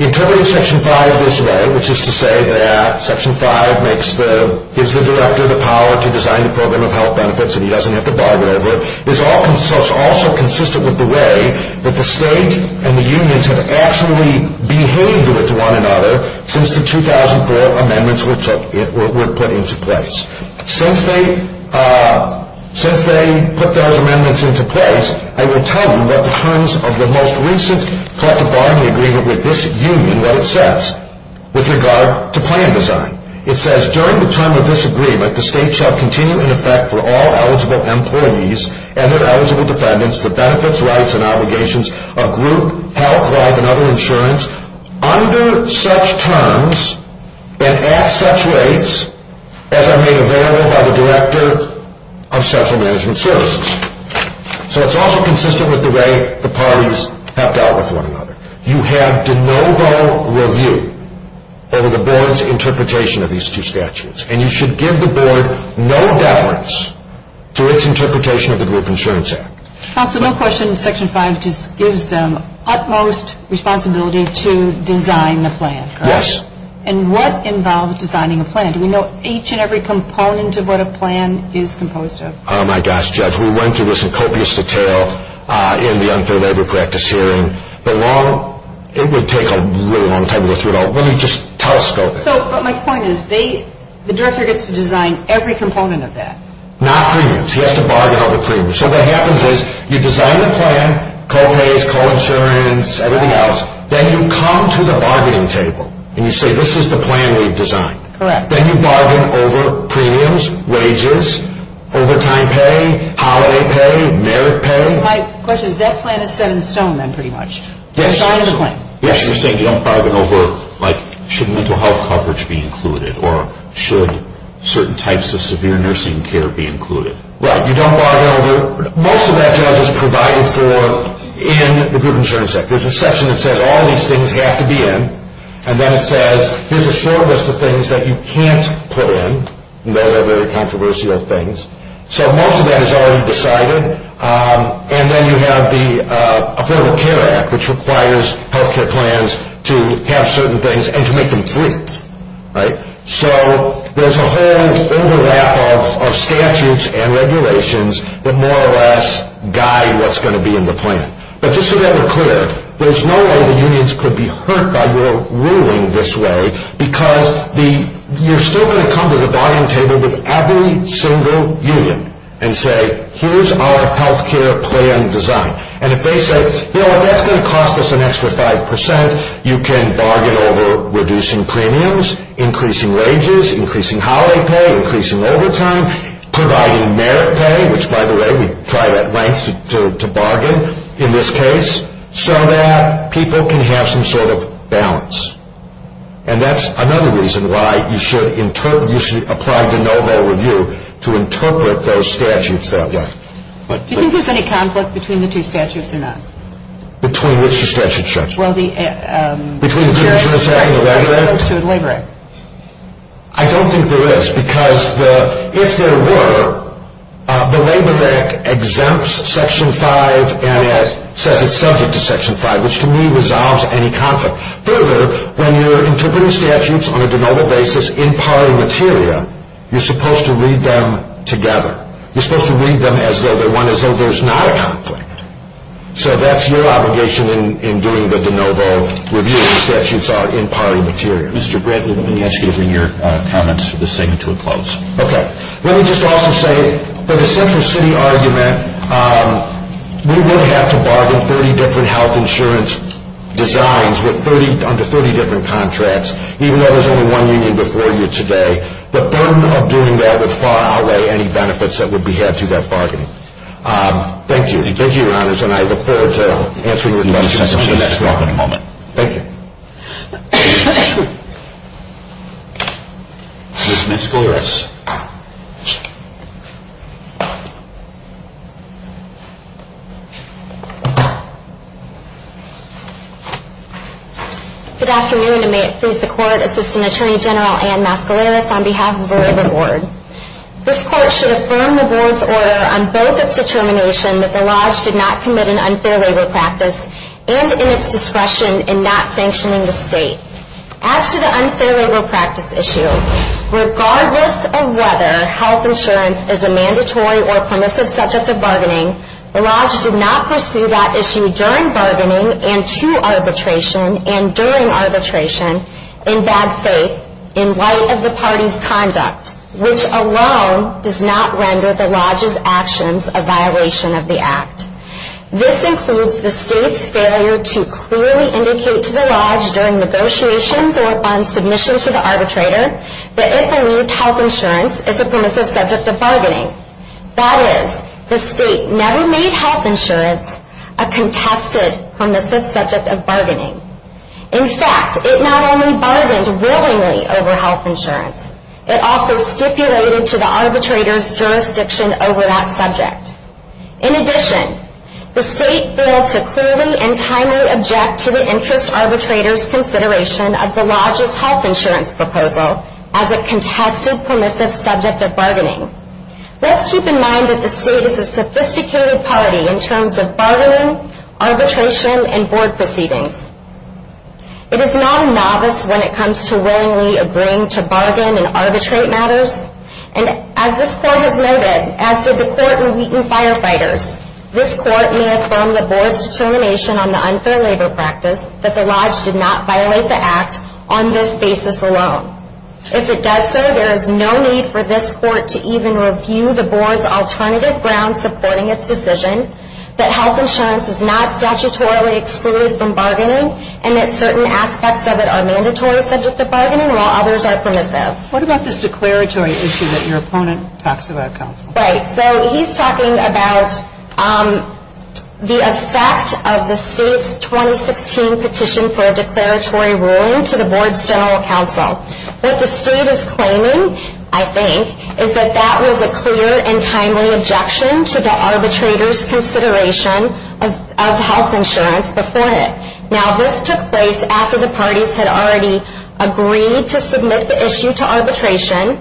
Interpreting Section 5 this way, which is to say that Section 5 makes the director the power to design the program of health benefits and he doesn't have to bargain over it, is also consistent with the way that the state and the unions have actually behaved with one another since the 2004 amendments were put into place. Since they put those amendments into place, I will tell you what the terms of the most recent classified agreement with this union, what it says with regard to plan design. It says, during the term of this agreement, the state shall continue in effect for all eligible employees and their eligible dependents the benefits, rights, and obligations of group, health, private, and other insurance under such terms and at such rates as are made available by the director of social management services. So it's also consistent with the way the parties have dealt with one another. You have de novo review over the board's interpretation of these two statutes and you should give the board no reference to its interpretation of the Group Insurance Act. Also, no question that Section 5 just gives them utmost responsibility to design the plan. Yes. And what involves designing a plan? Do we know each and every component of what a plan is composed of? Oh, my gosh, Judge. We went through this in copious detail in the unfair labor practice hearing. It would take a really long time to go through it all. Let me just telescope it. But my point is, the director gets to design every component of that. Not premiums. He has to bargain over premiums. So what happens is, you design a plan, co-pays, co-insurance, everything else. Then you come to the bargaining table and you say, this is the plan we've designed. Correct. Then you bargain over premiums, wages, overtime pay, holiday pay, merit pay. My question is, that plan is set in stone, then, pretty much. Yes. You're saying you don't bargain over, like, should mental health coverage be included or should certain types of severe nursing care be included. Right. You don't bargain over. Most of that has been provided for in the Group Insurance Act. There's a section that says all these things have to be in. And then it says, here's a short list of things that you can't put in. Very, very controversial things. So most of that is already decided. And then you have the Affordable Care Act, which requires health care plans to have certain things and to make them free. Right. So there's a whole overvalue of statutes and regulations that more or less guide what's going to be in the plan. But just to get it clear, there's no way the unions could be hurt by your ruling this way, because you're still going to come to the bargaining table with every single union and say, here's our health care plan design. And if they say, you know what, that's going to cost us an extra 5%, you can bargain over reducing premiums, increasing wages, increasing holiday pay, increasing overtime, providing merit pay, which, by the way, we've tried at length to bargain in this case, so that people can have some sort of balance. And that's another reason why you should apply the no-no review to interpret those statutes. Do you think there's going to be conflict between the two statutes or not? Between which two statutes, Chuck? Well, the... Between the 2nd Amendment and the 2nd Amendment? Between the 2nd Amendment and the 2nd Amendment. I don't think there is, because if there were, the Labor Act exempts Section 5 and sets it subject to Section 5, which to me resolves any conflict. Further, when you're interpreting statutes on a no-no basis in parliamentaria, you're supposed to read them together. You're supposed to read them as though they want to say there's not a conflict. So that's your obligation in doing the no-no reviewing statutes are in parliamentaria. Mr. Brentman, let me ask you to bring your comments to a close. Okay. Let me just also say, for the Central City argument, we would have to bargain 30 different health insurance designs under 30 different contracts, even though there's only one we need before you today. The burden of doing that would far outweigh any benefits that would be added to that bargain. Thank you. Thank you, Your Honors, and I look forward to answering your questions in the next round. Thank you. Ms. Metz-Golaris. Good afternoon, and may it please the Court, Assistant Attorney General Anne Metz-Golaris, on behalf of the Board of Rewards. This Court should affirm the Board's order on both its determination that the law should not commit an unfair labor practice and in its discretion in not sanctioning the state. As to the unfair labor practice issue, regardless of whether health insurance is a mandatory or punitive subject of bargaining, the lodge did not pursue that issue during bargaining and to arbitration and during arbitration in bad faith, in light of the party's conduct, which alone does not render the lodge's actions a violation of the Act. This includes the state's failure to clearly indicate to the lodge during negotiations or upon submission to the arbitrator that it believes health insurance is a permissive subject of bargaining. That is, the state never made health insurance a contested permissive subject of bargaining. In fact, it not only bargained willingly over health insurance, it also stipulated to the arbitrator's jurisdiction over that subject. In addition, the state failed to clearly and timely object to the interest arbitrator's consideration of the lodge's health insurance proposal as a contested permissive subject of bargaining. Let's keep in mind that the state is a sophisticated party in terms of bargaining, arbitration, and board proceedings. It is not a novice when it comes to willingly agreeing to bargain and arbitrate matters, and as this court has noted, as does a certain Wheaton Firefighters, this court may affirm the board's determination on the unfair labor practice that the lodge did not violate the Act on this basis alone. If it does so, there is no need for this court to even review the board's alternative grounds supporting its decision that health insurance is not statutorily excluded from bargaining and that certain aspects of it are mandatory subjects of bargaining while others are permissive. What about this declaratory issue that your opponent talks about? He's talking about the effect of the state's 2016 petition for a declaratory ruling to the board's general counsel. What the state is claiming, I think, is that that was a clear and timely objection to the arbitrator's consideration of health insurance before it. Now, this took place after the parties had already agreed to submit the issue to arbitration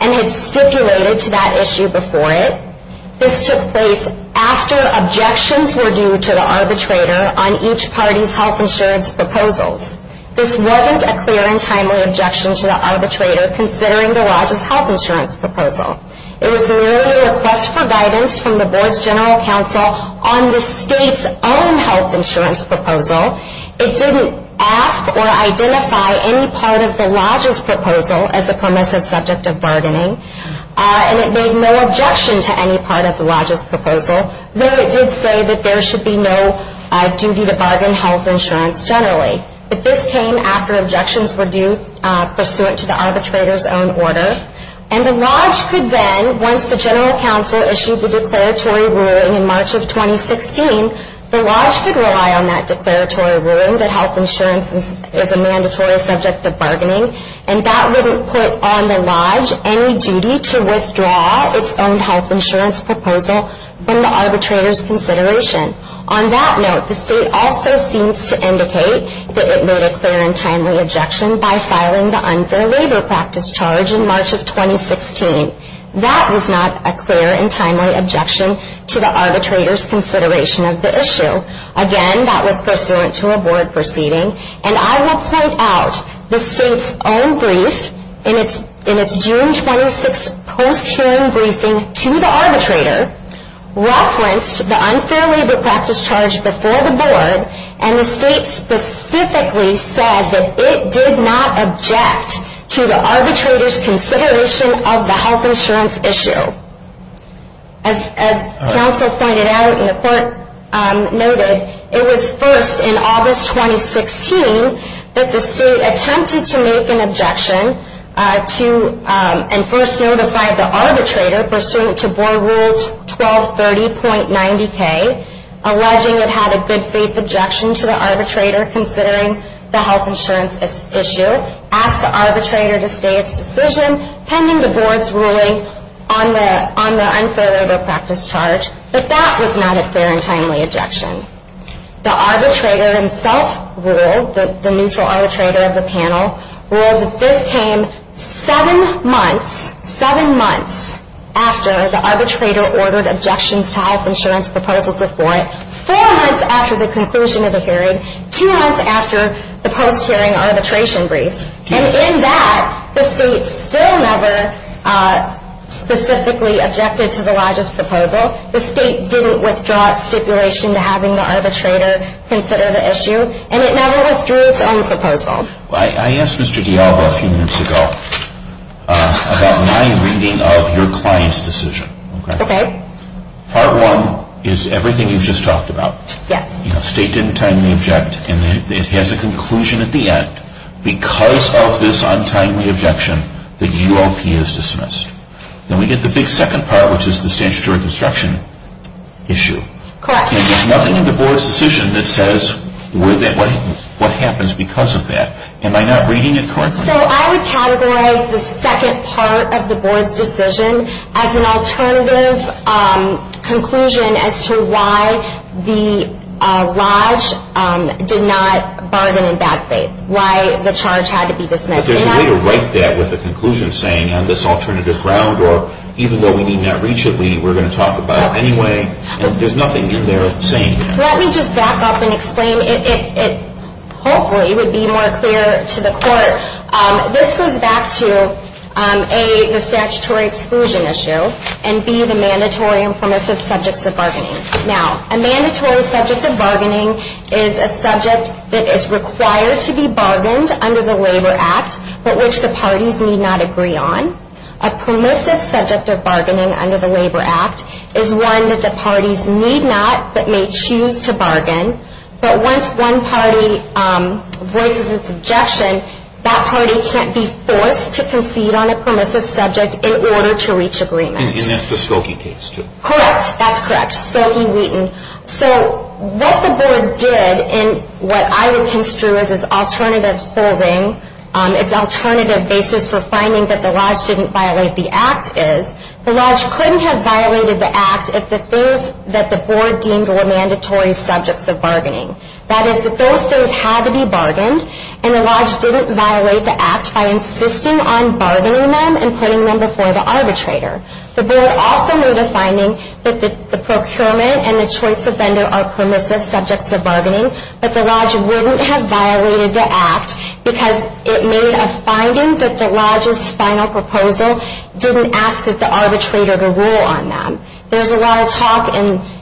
and had stipulated to that issue before it. This took place after objections were due to the arbitrator on each party's health insurance proposal. This wasn't a clear and timely objection to the arbitrator considering the lodge's health insurance proposal. It was merely a request for guidance from the board's general counsel on the state's own health insurance proposal. It didn't ask or identify any part of the lodge's proposal as a permissive subject of bargaining and it made no objection to any part of the lodge's proposal, though it did say that there should be no duty to bargain health insurance generally. But this came after objections were due pursuant to the arbitrator's own orders and the lodge could then, once the general counsel issued the declaratory ruling in March of 2016, the lodge could rely on that declaratory ruling that health insurance is a mandatory subject of bargaining and that would put on the lodge any duty to withdraw its own health insurance proposal from the arbitrator's consideration. On that note, the state also seems to indicate that it made a clear and timely objection by filing the unfair labor practice charge in March of 2016. That was not a clear and timely objection to the arbitrator's consideration of the issue. Again, that was pursuant to a board proceeding and I will point out the state's own brief in its June 26 post-hearing briefing to the arbitrator referenced the unfair labor practice charge before the board and the state specifically said that it did not object to the arbitrator's consideration of the health insurance issue. As counsel pointed out and the court noted, it was first in August 2016 that the state attempted to make an objection and first notified the arbitrator pursuant to board rules 1230.90k, alleging it had a good faith objection to the arbitrator considering the health insurance issue, asked the arbitrator to state its decision, pending the board's ruling on the unfair labor practice charge, but that was not a clear and timely objection. The arbitrator himself ruled, the neutral arbitrator of the panel, ruled that this came seven months, seven months, after the arbitrator ordered objections to health insurance proposals before it, four months after the conclusion of the hearing, two months after the post-hearing arbitration brief. And in that, the state still never specifically objected to Elijah's proposal. The state didn't withdraw stipulation to having the arbitrator consider the issue and it never withdrew its own proposal. I asked Mr. Gallo a few minutes ago about my reading of your client's decision. Okay. Part one is everything you just talked about. Yes. The state didn't timely object and it has a conclusion at the end, because of this untimely objection, the UOP is dismissed. And we get the big second part, which is the statutory obstruction issue. Correct. There's nothing in the board's decision that says what happens because of that. Am I not reading it correctly? So I would categorize the second part of the board's decision as an alternative conclusion as to why the lodge did not bargain in that case, why the charge had to be dismissed. There's a way to write that with a conclusion saying, on this alternative ground or even though we did not reach a meeting, we're going to talk about it anyway, there's nothing in there saying that. Let me just back up and explain. It hopefully would be more clear to the court. This goes back to A, the statutory exclusion issue, and B, the mandatory and permissive subject for bargaining. Now, a mandatory subject of bargaining is a subject that is required to be bargained under the Labor Act but which the parties need not agree on. A permissive subject of bargaining under the Labor Act is one that the parties need not but may choose to bargain, but once one party raises a suggestion, that party can't be forced to concede on a permissive subject in order to reach agreement. And that's the Stokey case, too. Correct. That's correct. Stokey-Wheaton. So what the board did, and what I would construe as its alternative holding, its alternative basis for finding that the Lodge didn't violate the Act is, the Lodge couldn't have violated the Act if the third that the board deemed were mandatory subjects of bargaining. That is, the third had to be bargained and the Lodge didn't violate the Act by insisting on bargaining them and putting them before the arbitrator. The board also made a finding that the procurement and the choice of vendor are permissive subjects of bargaining, but the Lodge wouldn't have violated the Act because it made a finding that the Lodge's final proposal didn't ask that the arbitrator to rule on them. There's a lot of talk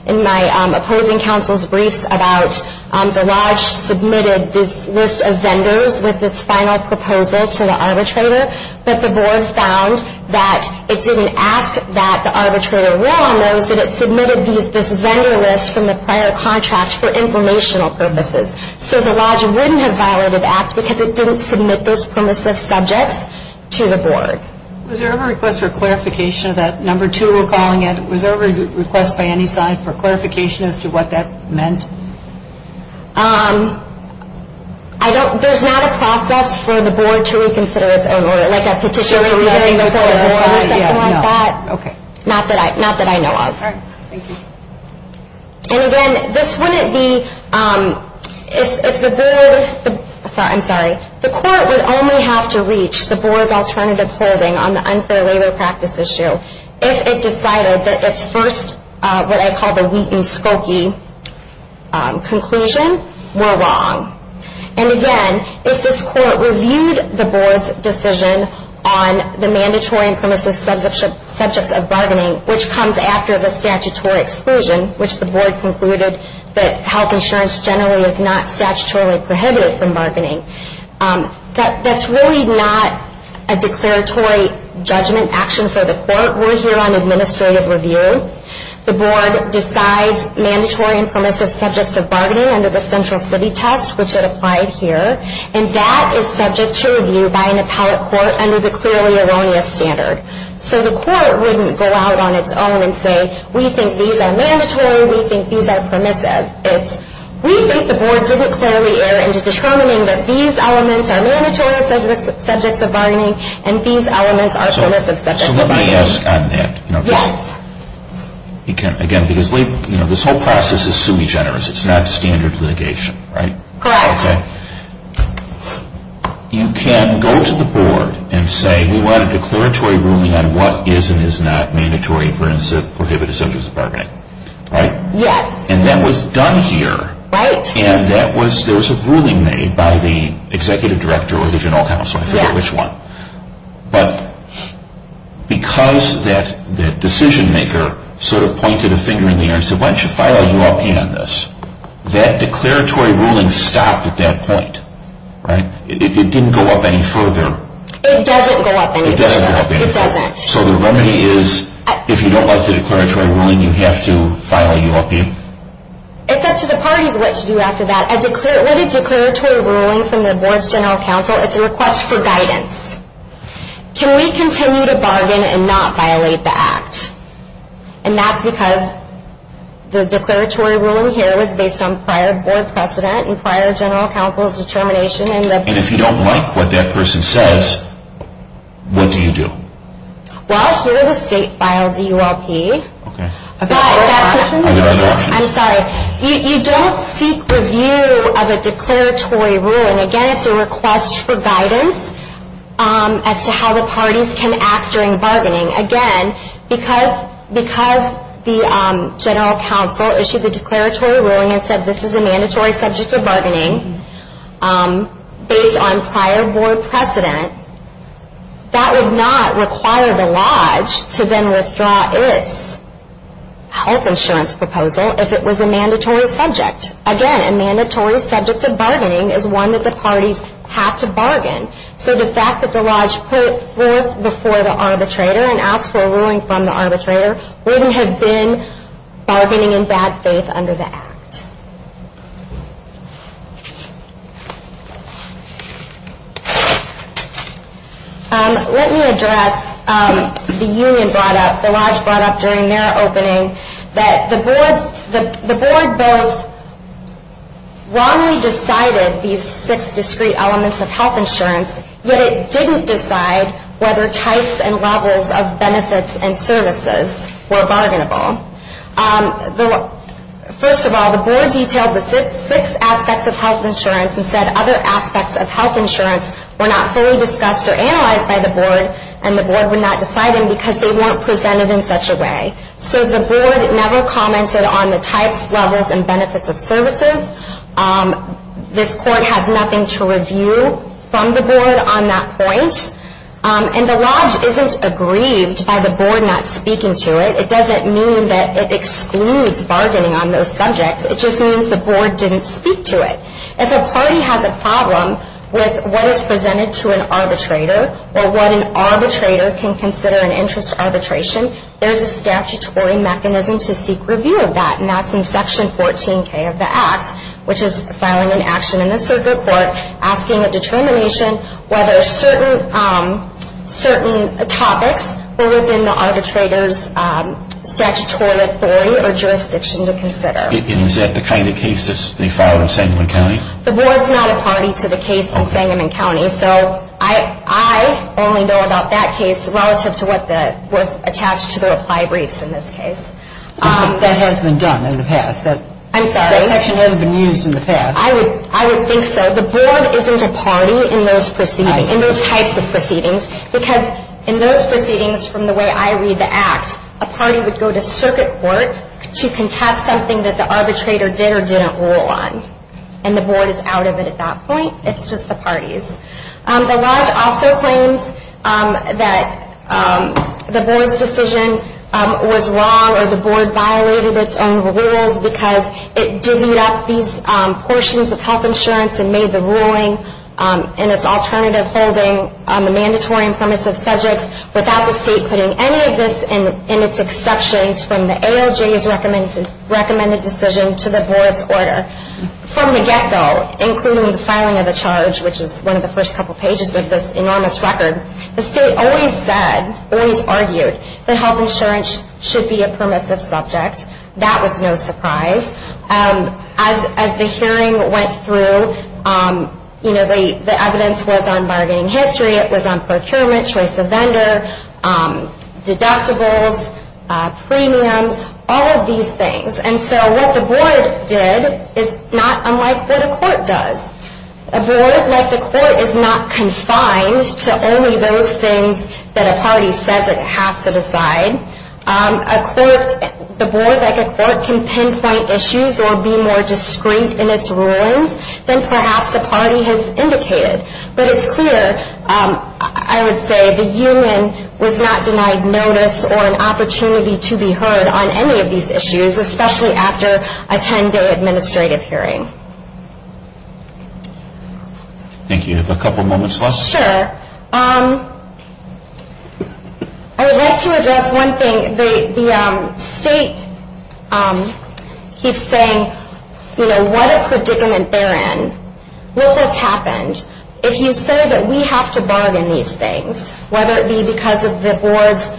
in my opposing counsel's brief about the Lodge submitted this list of vendors with its final proposal to the arbitrator, but the board found that it didn't ask that the arbitrator rule on those, but it submitted this vendor list from the prior contract for informational purposes. So the Lodge wouldn't have violated the Act because it didn't submit those permissive subjects to the board. Was there ever a request for clarification of that? Number two, we're calling it. Was there ever a request by any side for clarification as to what that meant? There's not a process for the board to reconsider it. Oh, like a petition? Sure. Not that I know of. Thank you. And again, this wouldn't be, if the board, I'm sorry, the court would only have to reach the board's alternative holding on the unfair labor practice issue if it decided that its first, what I call the wheat and spoky conclusion were wrong. And again, if this court reviewed the board's decision on the mandatory and permissive subjects of bargaining, which comes after the statutory exclusion, which the board concluded that health insurance generally is not statutorily prohibited from bargaining, that's really not a declaratory judgment action for the court. We're here on administrative review. The board decides mandatory and permissive subjects of bargaining under the central city text, which it applied here, and that is subject to review by an appellate court under the clearly erroneous standard. So the court wouldn't go out on its own and say, we think these are mandatory, we think these are permissive. It's, we think the board didn't clearly err into determining that these elements are mandatory subjects of bargaining and these elements are permissive subjects of bargaining. So nobody else got in there? No. Again, because this whole process is sui generis. It's not standard litigation, right? Correct. Okay. You can go to the board and say we want a declaratory ruling on what is and is not mandatory and permissive and prohibitive subjects of bargaining, right? Yes. And that was done here. Right. And that was, there was a ruling made by the executive director or the general counsel, I forget which one, but because that decision maker sort of pointed a finger in the air and said, file a ULP on this, that declaratory ruling stopped at that point, right? It didn't go up any further. It doesn't go up any further. It doesn't go up any further. It doesn't. So the remedy is, if you don't like the declaratory ruling, you have to file a ULP. It's up to the parties what to do after that. A written declaratory ruling from the board's general counsel is a request for guidance. Can we continue to bargain and not violate the act? And that's because the declaratory ruling here was based on prior board precedent and prior general counsel's determination. And if you don't like what that person says, what do you do? Well, here the state filed the ULP. Okay. I'm sorry, you don't seek review of a declaratory ruling. Again, it's a request for guidance as to how the parties can act during bargaining. Again, because the general counsel issued the declaratory ruling and said this is a mandatory subject of bargaining based on prior board precedent, that would not require the lodge to then withdraw its health insurance proposal if it was a mandatory subject. Again, a mandatory subject of bargaining is one that the parties have to bargain. So the fact that the lodge put forth before the arbitrator an actual ruling from the arbitrator wouldn't have been bargaining in bad faith under the act. Let me address the union brought up, the lodge brought up during their opening, that the board both wrongly decided these six discrete elements of health insurance, yet it didn't decide whether types and levels of benefits and services were bargainable. First of all, the board detailed the six aspects of health insurance and said other aspects of health insurance were not fully discussed or analyzed by the board and the board would not decide them because they weren't presented in such a way. So the board never commented on the types, levels, and benefits of services. This court had nothing to review from the board on that point. And the lodge isn't aggrieved by the board not speaking to it. It doesn't mean that it excludes bargaining on those subjects. It just means the board didn't speak to it. If a party has a problem with what is presented to an arbitrator or what an arbitrator can consider an interest arbitration, there's a statutory mechanism to seek review of that, and that's in section 14K of the act, which is filing an action in the circuit court asking the determination whether certain topics were within the arbitrator's statutory authority or jurisdiction to consider. Is that the kind of case that's being filed in Sangamon County? The board's not a party to the case in Sangamon County. So I only know about that case relative to what was attached to the applied briefs in this case. I don't think that has been done in the past. I'm sorry? That section hasn't been used in the past. I would think so. The board isn't a party in those types of proceedings because in those proceedings from the way I read the act, a party would go to circuit court to contest something that the arbitrator did or didn't rule on, and the board is out of it at that point. It's just a party. The law also claims that the board's decision was wrong or the board violated its own rules because it divvied up these portions of health insurance and made the ruling in its alternative holding on the mandatory and permissive subjects without the state putting any of this in its exception from the ALJ's recommended decision to the board's order. From the get-go, including the filing of the charge, which is one of the first couple pages of this enormous record, the state always said, always argued, that health insurance should be a permissive subject. That was no surprise. As the hearing went through, you know, the evidence was on bargaining history. It was on procurement, choice of vendor, deductibles, premiums, all of these things. And so what the board did is not unlike what a court does. A board, like a court, is not confined to only those things that a party says it has to decide. A court, the board, like a court, can pinpoint issues or be more discreet in its rulings than perhaps a party has indicated. But it's clear, I would say, the union was not denied notice or an opportunity to be heard on any of these issues, especially after a 10-day administrative hearing. Thank you. Do you have a couple of moments left? Sure. I would like to address one thing. The state keeps saying, you know, what if we're getting an errand? What if that's happened? If you say that we have to bargain these things, whether it be because of the board's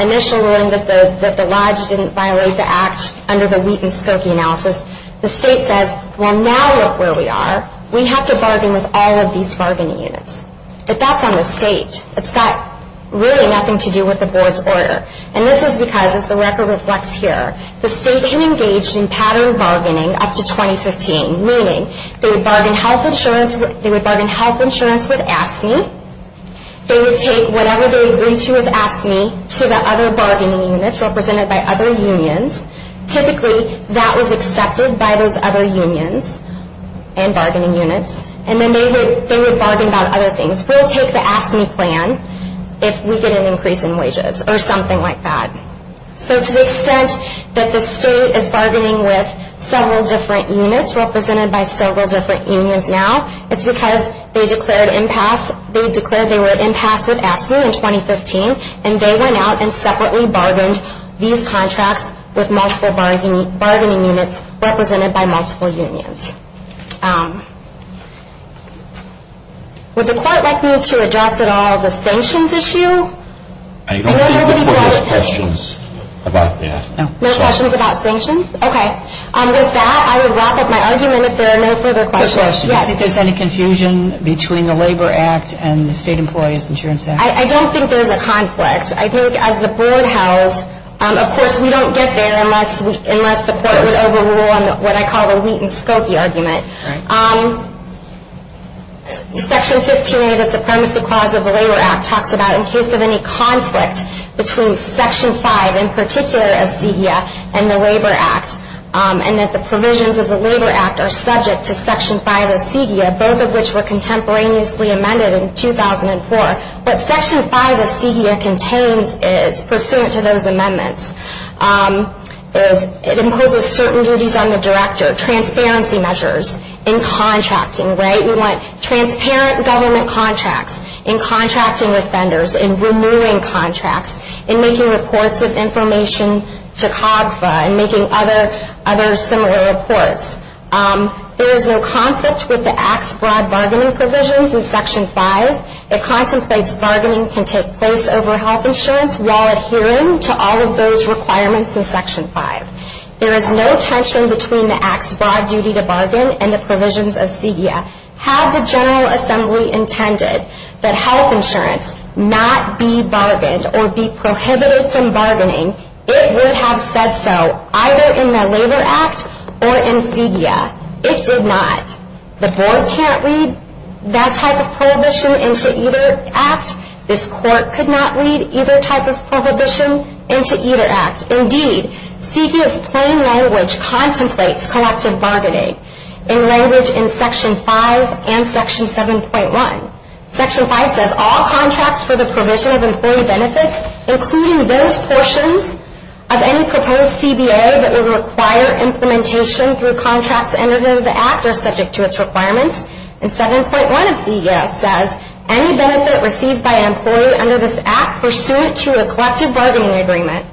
initial ruling that the lodge didn't violate the act under the Wheaton-Skokie analysis, the state says, well, now look where we are. We have to bargain with all of these bargaining units. But that's on the state. It's got really nothing to do with the board's order. And this is because, as the record reflects here, the state is engaged in pattern bargaining up to 2015, meaning they would bargain health insurance with AFSCME. They would take whatever they agreed to with AFSCME to the other bargaining units represented by other unions. Typically, that was accepted by those other unions and bargaining units. And then they would bargain about other things. We'll take the AFSCME plan if we get an increase in wages or something like that. So to the extent that the state is bargaining with several different units represented by several different unions now, it's because they declared they were in pass with AFSCME in 2015, and they went out and separately bargained these contracts with multiple bargaining units represented by multiple unions. Would the court like me to address at all the sanctions issue? I don't have any questions about that. No questions about sanctions? Okay. With that, I would wrap up my argument. If there are no further questions, yes. Is there any confusion between the Labor Act and the State Employees Insurance Act? I don't think there's a conflict. I think as the board has, of course, we don't get there unless the court would overrule what I call the wheat and stoke argument. Section 15 of the Supremacy Clause of the Labor Act talks about in case of any conflict between Section 5 in particular of CDF and the Labor Act and that the provisions of the Labor Act are subject to Section 5 of CDF, both of which were contemporaneously amended in 2004. But Section 5 of CDF contains, pursuant to those amendments, it imposes certain duties on the director of transparency measures in contracting, right? We want transparent government contracts in contracting with vendors, in renewing contracts, in making reports with information to COGFA and making other similar reports. There is no conflict with the Act's broad bargaining provisions in Section 5. It contemplates bargaining can take place over health insurance while adhering to all of those requirements in Section 5. There is no tension between the Act's broad duty to bargain and the provisions of CDF. Had the General Assembly intended that health insurance not be bargained or be prohibited from bargaining, it would have said so either in the Labor Act or in CDF. It did not. The Board can't read that type of prohibition into either Act. This Court could not read either type of prohibition into either Act. Indeed, CDF's plain language contemplates collective bargaining in language in Section 5 and Section 7.1. Section 5 says all contracts for the provision of employee benefits, including those portions of any proposed CBA that would require implementation through contracts under those Acts are subject to its requirements. And 7.1 of CDF says any benefit received by an employee under this Act pursuant to a collective bargaining agreement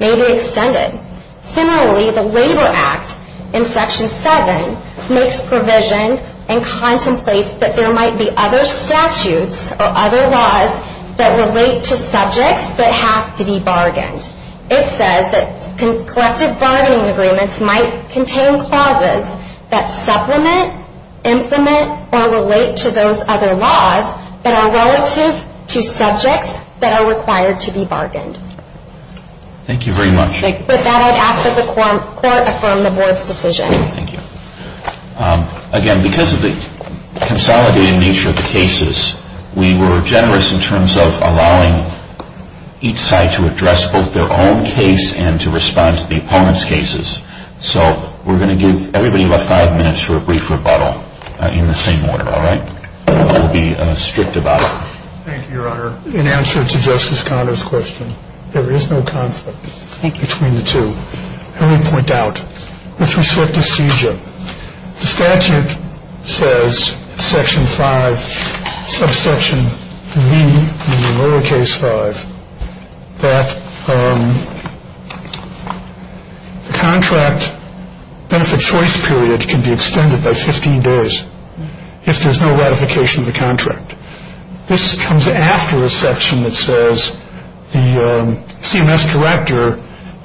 may be extended. Similarly, the Labor Act in Section 7 makes provisions and contemplates that there might be other statutes or other laws that relate to subjects that have to be bargained. It says that collective bargaining agreements might contain clauses that supplement, implement, or relate to those other laws that are relative to subjects that are required to be bargained. Thank you very much. With that, I would ask that the Court affirm the Board's decision. Thank you. Again, because of the consolidated nature of the cases, we were generous in terms of allowing each side to address both their own case and to respond to the opponent's cases. So we're going to give everybody about five minutes for a brief rebuttal in the same order, all right? I don't want to be strict about it. Thank you, Your Honor. In answer to Justice Conner's question, there is no conflict, I think, between the two. Let me point out, let's reset the seizure. The statute says, Section 5, subsection V, meaning lower case 5, that the contract benefit choice period can be extended by 15 days if there's no ratification of the contract. This comes after a section that says the CMS collector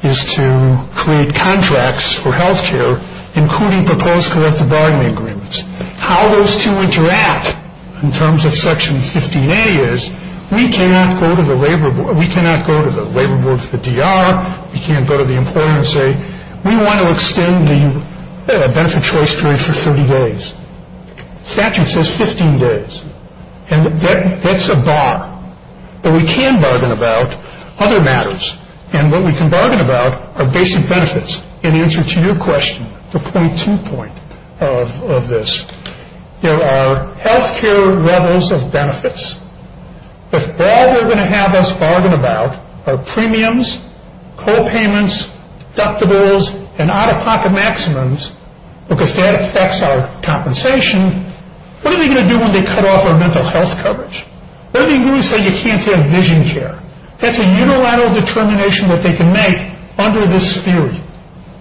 is to create contracts for health care, including proposed collective bargaining agreements. How those two interact in terms of Section 15A is we cannot go to the labor board for the DR, we can't go to the employer and say, we want to extend the benefit choice period for 30 days. The statute says 15 days, and that's a bar. But we can bargain about other matters, and what we can bargain about are basic benefits. In answer to your question, the point two point of this, there are health care levels of benefits. If all we're going to have us bargain about are premiums, copayments, deductibles, and out-of-pocket maximums, because that affects our compensation, what are we going to do when they cut off our mental health coverage? What do you mean when you say you can't have vision care? That's a unilateral determination that they can make under this theory.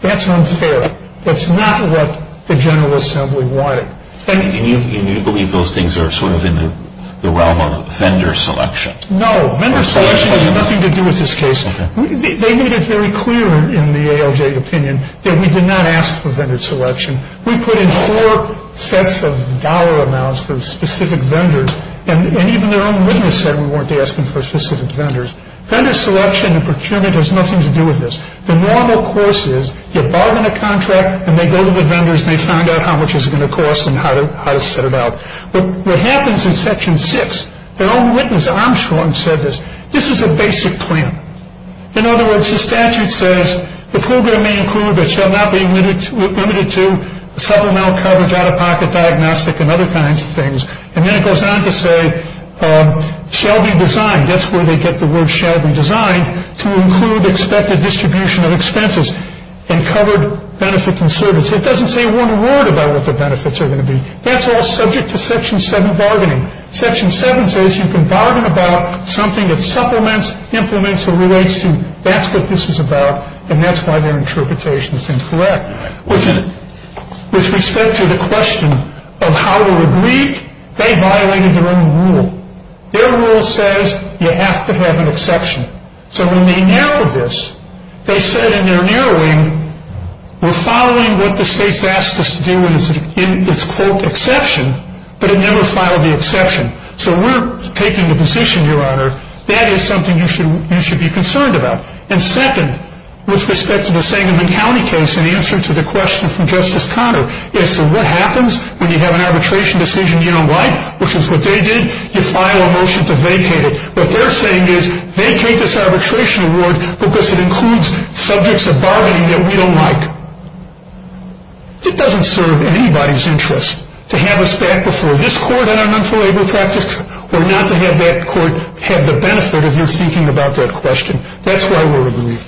That's unfair. That's not what the General Assembly wanted. And you believe those things are sort of in the realm of vendor selection? No, vendor selection has nothing to do with this case. They made it very clear in the ALJ opinion that we did not ask for vendor selection. We put in four sets of dollar amounts for specific vendors, and even their own witness said we weren't asking for specific vendors. Vendor selection and procurement has nothing to do with this. The normal course is you buy them a contract, and they go to the vendors, and they find out how much it's going to cost and how to set it out. But what happens in Section 6, their own witness, Armstrong, said this. This is a basic claim. In other words, the statute says the program may include, but shall not be limited to, several mental health coverage, out-of-pocket diagnostic, and other kinds of things. And then it goes on to say shall be designed. That's where they get the word shall be designed, to include expected distribution of expenses and covered benefits and services. It doesn't say a word about what the benefits are going to be. That's all subject to Section 7 bargaining. Section 7 says you can bargain about something that supplements, implements, or relates to, that's what this is about, and that's why their interpretation is incorrect. Which is, with respect to the question of how to agree, they violated their own rule. Their rule says you have to have an exception. So when they narrowed this, they said in their narrowing, we're following what the state's asked us to do, but it never followed the exception. So we're taking the position, Your Honor, that is something you should be concerned about. And second, with respect to the St. Louis County case, in answer to the question from Justice Conner, they said what happens when you have an arbitration decision you don't like, which is what they did, you file a motion to vacate it. What they're saying is vacate this arbitration award, because it includes subjects of bargaining that we don't like. It doesn't serve anybody's interest to have us back before this court on unlawful labor practice or not to have that court have the benefit of your speaking about that question. That's why we're agreed.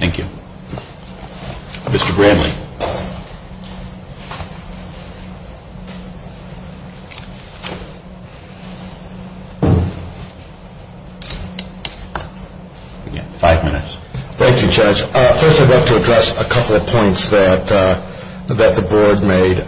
Thank you. Mr. Bramley. Five minutes. Thank you, Judge. First, I'd like to address a couple of points that the Board made.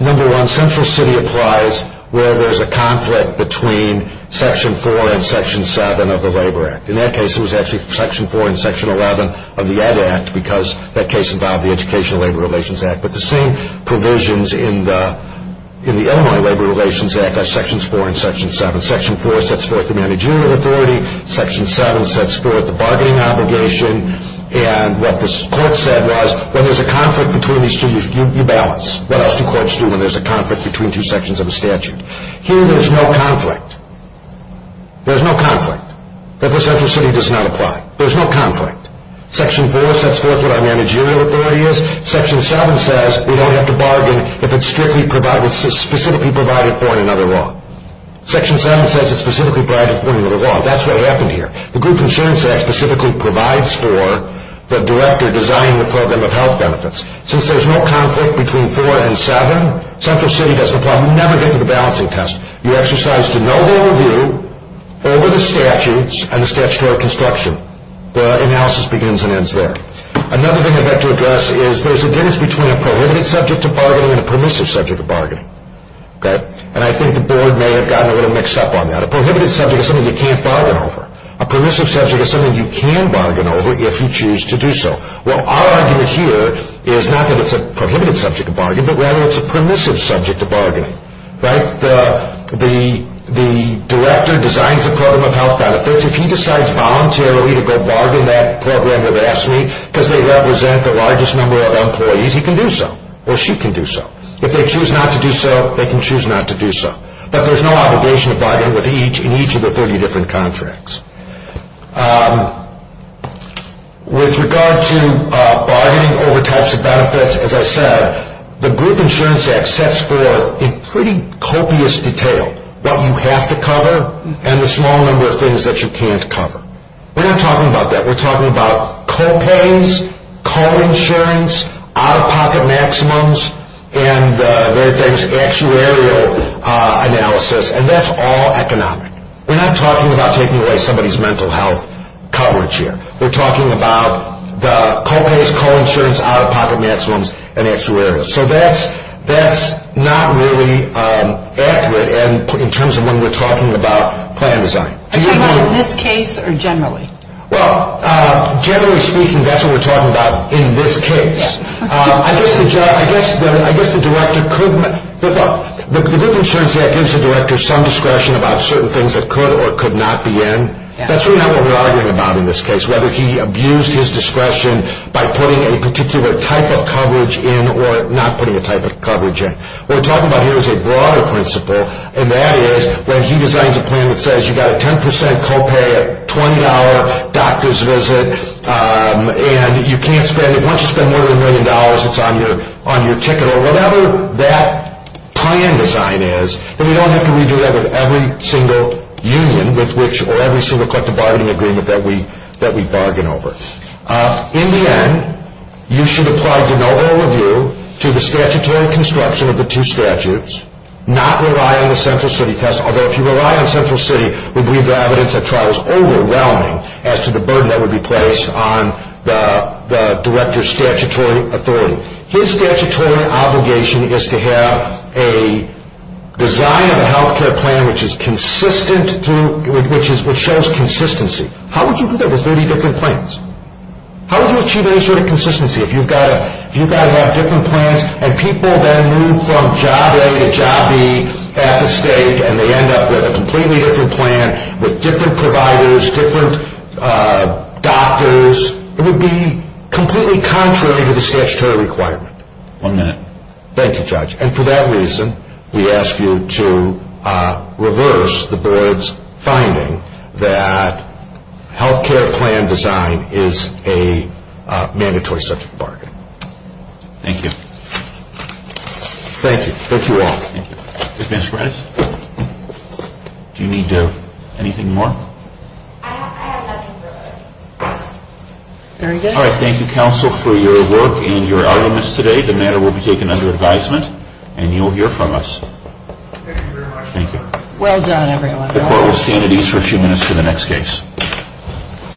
Number one, Central City applies where there's a conflict between Section 4 and Section 7 of the Labor Act. In that case, it was actually Section 4 and Section 11 of the Ed Act, because that case involved the Education and Labor Relations Act. But the same provisions in the Illinois Labor Relations Act are Sections 4 and Section 7. Section 4 sets forth the managerial authority. Section 7 sets forth the bargaining obligation. And what this court said was, when there's a conflict between these two, you balance. That's what courts do when there's a conflict between two sections of a statute. Here, there's no conflict. There's no conflict. The First Central City does not apply. There's no conflict. Section 4 sets forth what our managerial authority is. Section 7 says we don't have to bargain if it's specifically provided for in another law. Section 7 says it's specifically provided for in another law. That's what happened here. The Group Insurance Act specifically provides for the director designing the program of health benefits. Since there's no conflict between 4 and 7, Central City doesn't apply. You never get to the balancing test. You exercise the no-rule view over the statutes and the statutory construction. The analysis begins and ends there. Another thing I'd like to address is there's a difference between a prohibitive subject to bargaining and a permissive subject to bargaining. I think the board may have gotten a little mixed up on that. A prohibitive subject is something you can't bargain over. A permissive subject is something you can bargain over if you choose to do so. Well, our argument here is not that it's a prohibited subject to bargain, but rather it's a permissive subject to bargain. The director designs the program of health benefits. If he decides voluntarily to go bargain that program with AFSCME because they represent the largest number of employees, he can do so or she can do so. If they choose not to do so, they can choose not to do so. But there's no obligation to bargain with each in each of the 30 different contracts. With regard to bargaining over types of benefits, as I said, the group insurance act sets forth in pretty copious detail what you have to cover and the small number of things that you can't cover. We're not talking about that. We're talking about the co-pays, co-insurance, out-of-pocket maximums, and actuarial analysis, and that's all economic. We're not talking about taking away somebody's mental health coverage here. We're talking about the co-pays, co-insurance, out-of-pocket maximums, and actuarial. So that's not really accurate in terms of when we're talking about plan design. And is that in this case or generally? Well, generally speaking, that's what we're talking about in this case. I guess the director couldn't. The group insurance act gives the director some discretion about certain things that could or could not be in. That's really not what we're arguing about in this case, whether he abused his discretion by putting a particular type of coverage in or not putting a type of coverage in. We're talking about here's a broader principle, and that is that he designs a plan that says you've got a 10% co-pay, a $20 doctor's visit, and you can't spend it. Once you spend more than a million dollars, it's on your ticket or whatever that plan design is. And we don't have to redo that at every single union or every single collective bargaining agreement that we bargain over. In the end, you should apply for no overview to the statutory construction of the two statutes, not rely on the central city, although if you rely on the central city, we believe the evidence at trial is overwhelming as to the burden that would be placed on the director's statutory authority. His statutory obligation is to have a design of a health care plan which is consistent, which shows consistency. How would you do that with 30 different plans? How would you achieve that sort of consistency if you've got a lot of different plans and people then move from job A to job B at the state and they end up with a completely different plan with different providers, different doctors? It would be completely contrary to the statutory requirement. One minute. Thank you, Judge. And for that reason, we ask you to reverse the board's finding that health care plan design is a mandatory subject of bargaining. Thank you. Thank you. Thank you all. Do you need anything more? All right. Thank you, counsel, for your work and your arguments today. The matter will be taken under advisement and you'll hear from us. Thank you. Well done, everyone. The court will stand at ease for a few minutes for the next case.